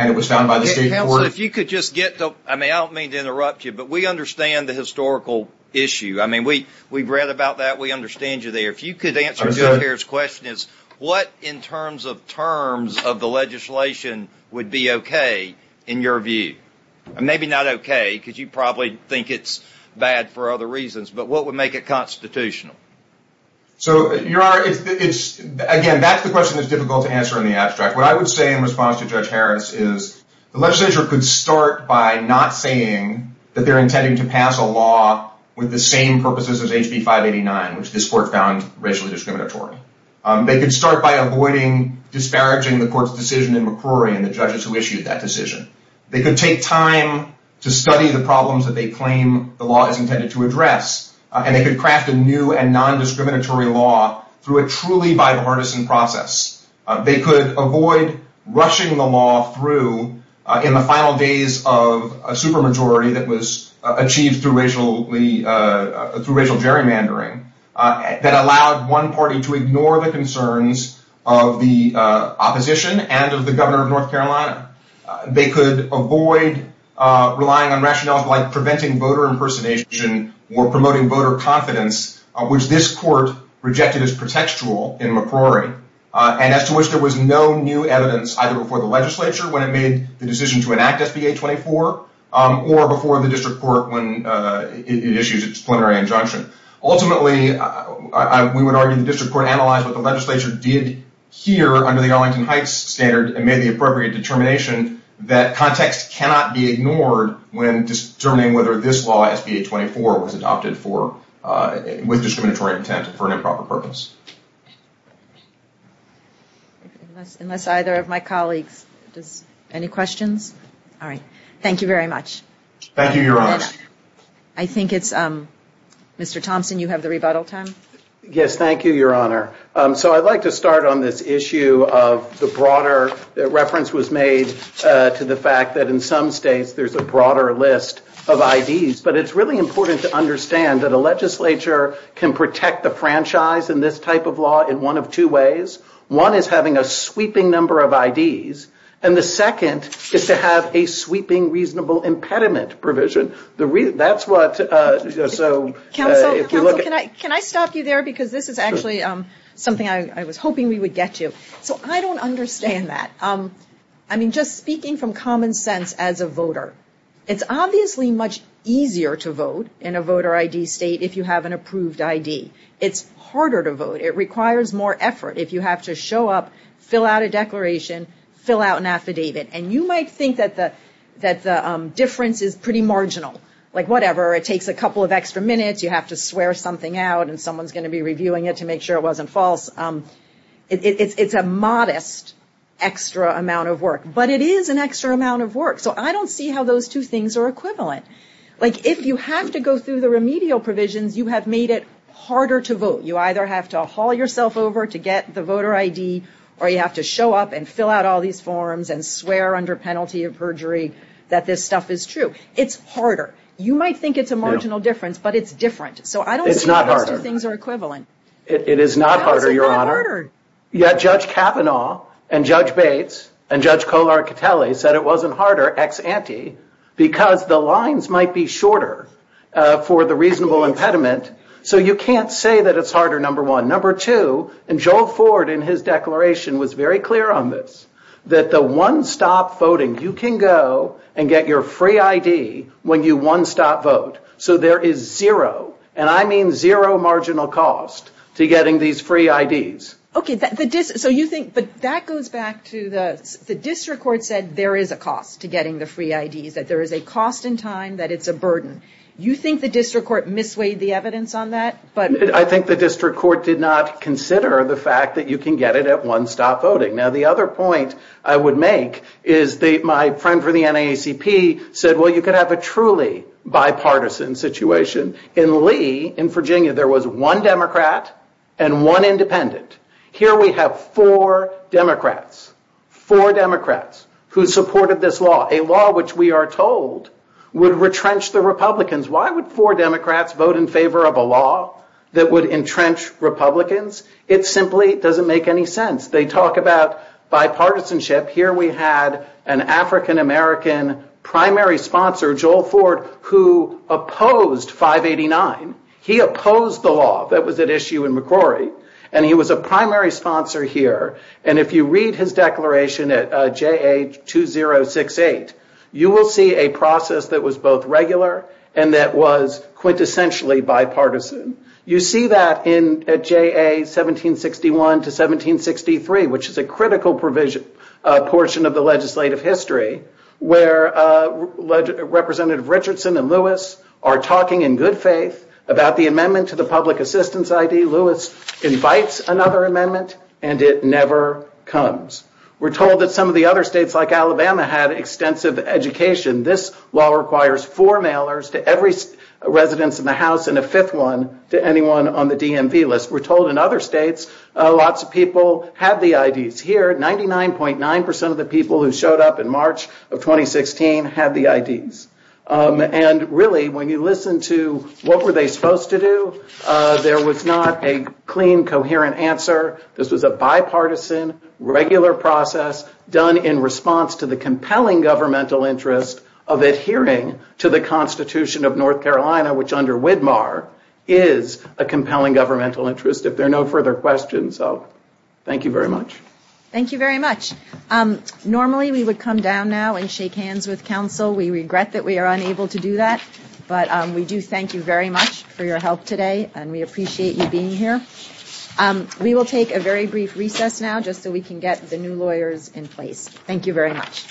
it was found by the state court. Counsel, if you could just get to, I mean, I don't mean to interrupt you, but we understand the historical issue. I mean, we've read about that, we understand you there. If you could answer the question, what in terms of terms of the legislation would be okay in your view? Maybe not okay, because you probably think it's bad for other reasons, but what would make it constitutional? So, Your Honor, again, that's the question that's difficult to answer in the abstract. What I would say in response to Judge Harris is the legislature could start by not saying that they're intending to pass a law with the same purposes as HB 589, which this court found racially discriminatory. They could start by avoiding disparaging the court's decision in McCrory and the judges who issued that decision. They could take time to study the problems that they claim the law is intended to address, and they could craft a new and non-discriminatory law through a truly bipartisan process. They could avoid rushing the law through in the final days of a supermajority that was achieved through racial gerrymandering that allowed one party to ignore the concerns of the opposition and of the governor of North Carolina. They could avoid relying on rationales like preventing voter impersonation or promoting voter confidence, which this court rejected as pretextual in McCrory, and as to which there was no new evidence either before the legislature when it made the decision to enact SB 824 or before the district court when it issued its preliminary injunction. Ultimately, we would argue the district court analyzed what the legislature did here under the Arlington Heights standard and made the appropriate determination that context cannot be ignored when determining whether this law, SB 824, was adopted with discriminatory intent and for an improper purpose. Unless either of my colleagues has any questions. All right. Thank you very much. Thank you, Your Honor. I think it's Mr. Thompson, you have the rebuttal time. Yes, thank you, Your Honor. So I'd like to start on this issue of the broader reference was made to the fact that in some states there's a broader list of IDs. But it's really important to understand that a legislature can protect the franchise in this type of law in one of two ways. One is having a sweeping number of IDs. And the second is to have a sweeping reasonable impediment provision. Counsel, can I stop you there? Because this is actually something I was hoping we would get to. So I don't understand that. I mean, just speaking from common sense as a voter, it's obviously much easier to vote in a voter ID state if you have an approved ID. It's harder to vote. It requires more effort if you have to show up, fill out a declaration, fill out an affidavit. And you might think that the difference is pretty marginal. Like, whatever, it takes a couple of extra minutes. You have to swear something out and someone's going to be reviewing it to make sure it wasn't false. It's a modest extra amount of work. But it is an extra amount of work. So I don't see how those two things are equivalent. Like, if you have to go through the remedial provisions, you have made it harder to vote. You either have to haul yourself over to get the voter ID or you have to show up and fill out all these forms and swear under penalty of perjury that this stuff is true. It's harder. You might think it's a marginal difference, but it's different. So I don't see how those two things are equivalent. It is not harder, Your Honor. Yet Judge Kavanaugh and Judge Bates and Judge Kolarkatelli said it wasn't harder ex ante because the lines might be shorter for the reasonable impediment. So you can't say that it's harder, number one. Number two, and Joel Ford in his declaration was very clear on this, that the one-stop voting, you can go and get your free ID when you one-stop vote. So there is zero, and I mean zero marginal cost to getting these free IDs. Okay. So you think, but that goes back to the district court said there is a cost to getting the free IDs, that there is a cost in time, that it's a burden. You think the district court misweighed the evidence on that? I think the district court did not consider the fact that you can get it at one-stop voting. Now, the other point I would make is my friend from the NAACP said, well, you could have a truly bipartisan situation. In Lee, in Virginia, there was one Democrat and one independent. Here we have four Democrats, four Democrats who supported this law, a law which we are told would retrench the Republicans. Why would four Democrats vote in favor of a law that would entrench Republicans? It simply doesn't make any sense. They talk about bipartisanship. Here we had an African-American primary sponsor, Joel Ford, who opposed 589. He opposed the law that was at issue in McCrory, and he was a primary sponsor here. And if you read his declaration at JA 2068, you will see a process that was both regular and that was quintessentially bipartisan. You see that in JA 1761 to 1763, which is a critical provision, a portion of the legislative history, where Representative Richardson and Lewis are talking in good faith about the amendment to the public assistance ID. Lewis invites another amendment, and it never comes. We're told that some of the other states, like Alabama, had extensive education. This law requires four mailers to every residence in the House and a fifth one to anyone on the DMV list. We're told in other states, lots of people have the IDs. Here, 99.9% of the people who showed up in March of 2016 had the IDs. And really, when you listen to what were they supposed to do, there was not a clean, coherent answer. This was a bipartisan, regular process done in response to the compelling governmental interest of adhering to the Constitution of North Carolina, which under Widmar is a compelling governmental interest, if there are no further questions. So thank you very much. Thank you very much. Normally, we would come down now and shake hands with counsel. We regret that we are unable to do that. But we do thank you very much for your help today, and we appreciate you being here. We will take a very brief recess now, just so we can get the new lawyers in place. Thank you very much.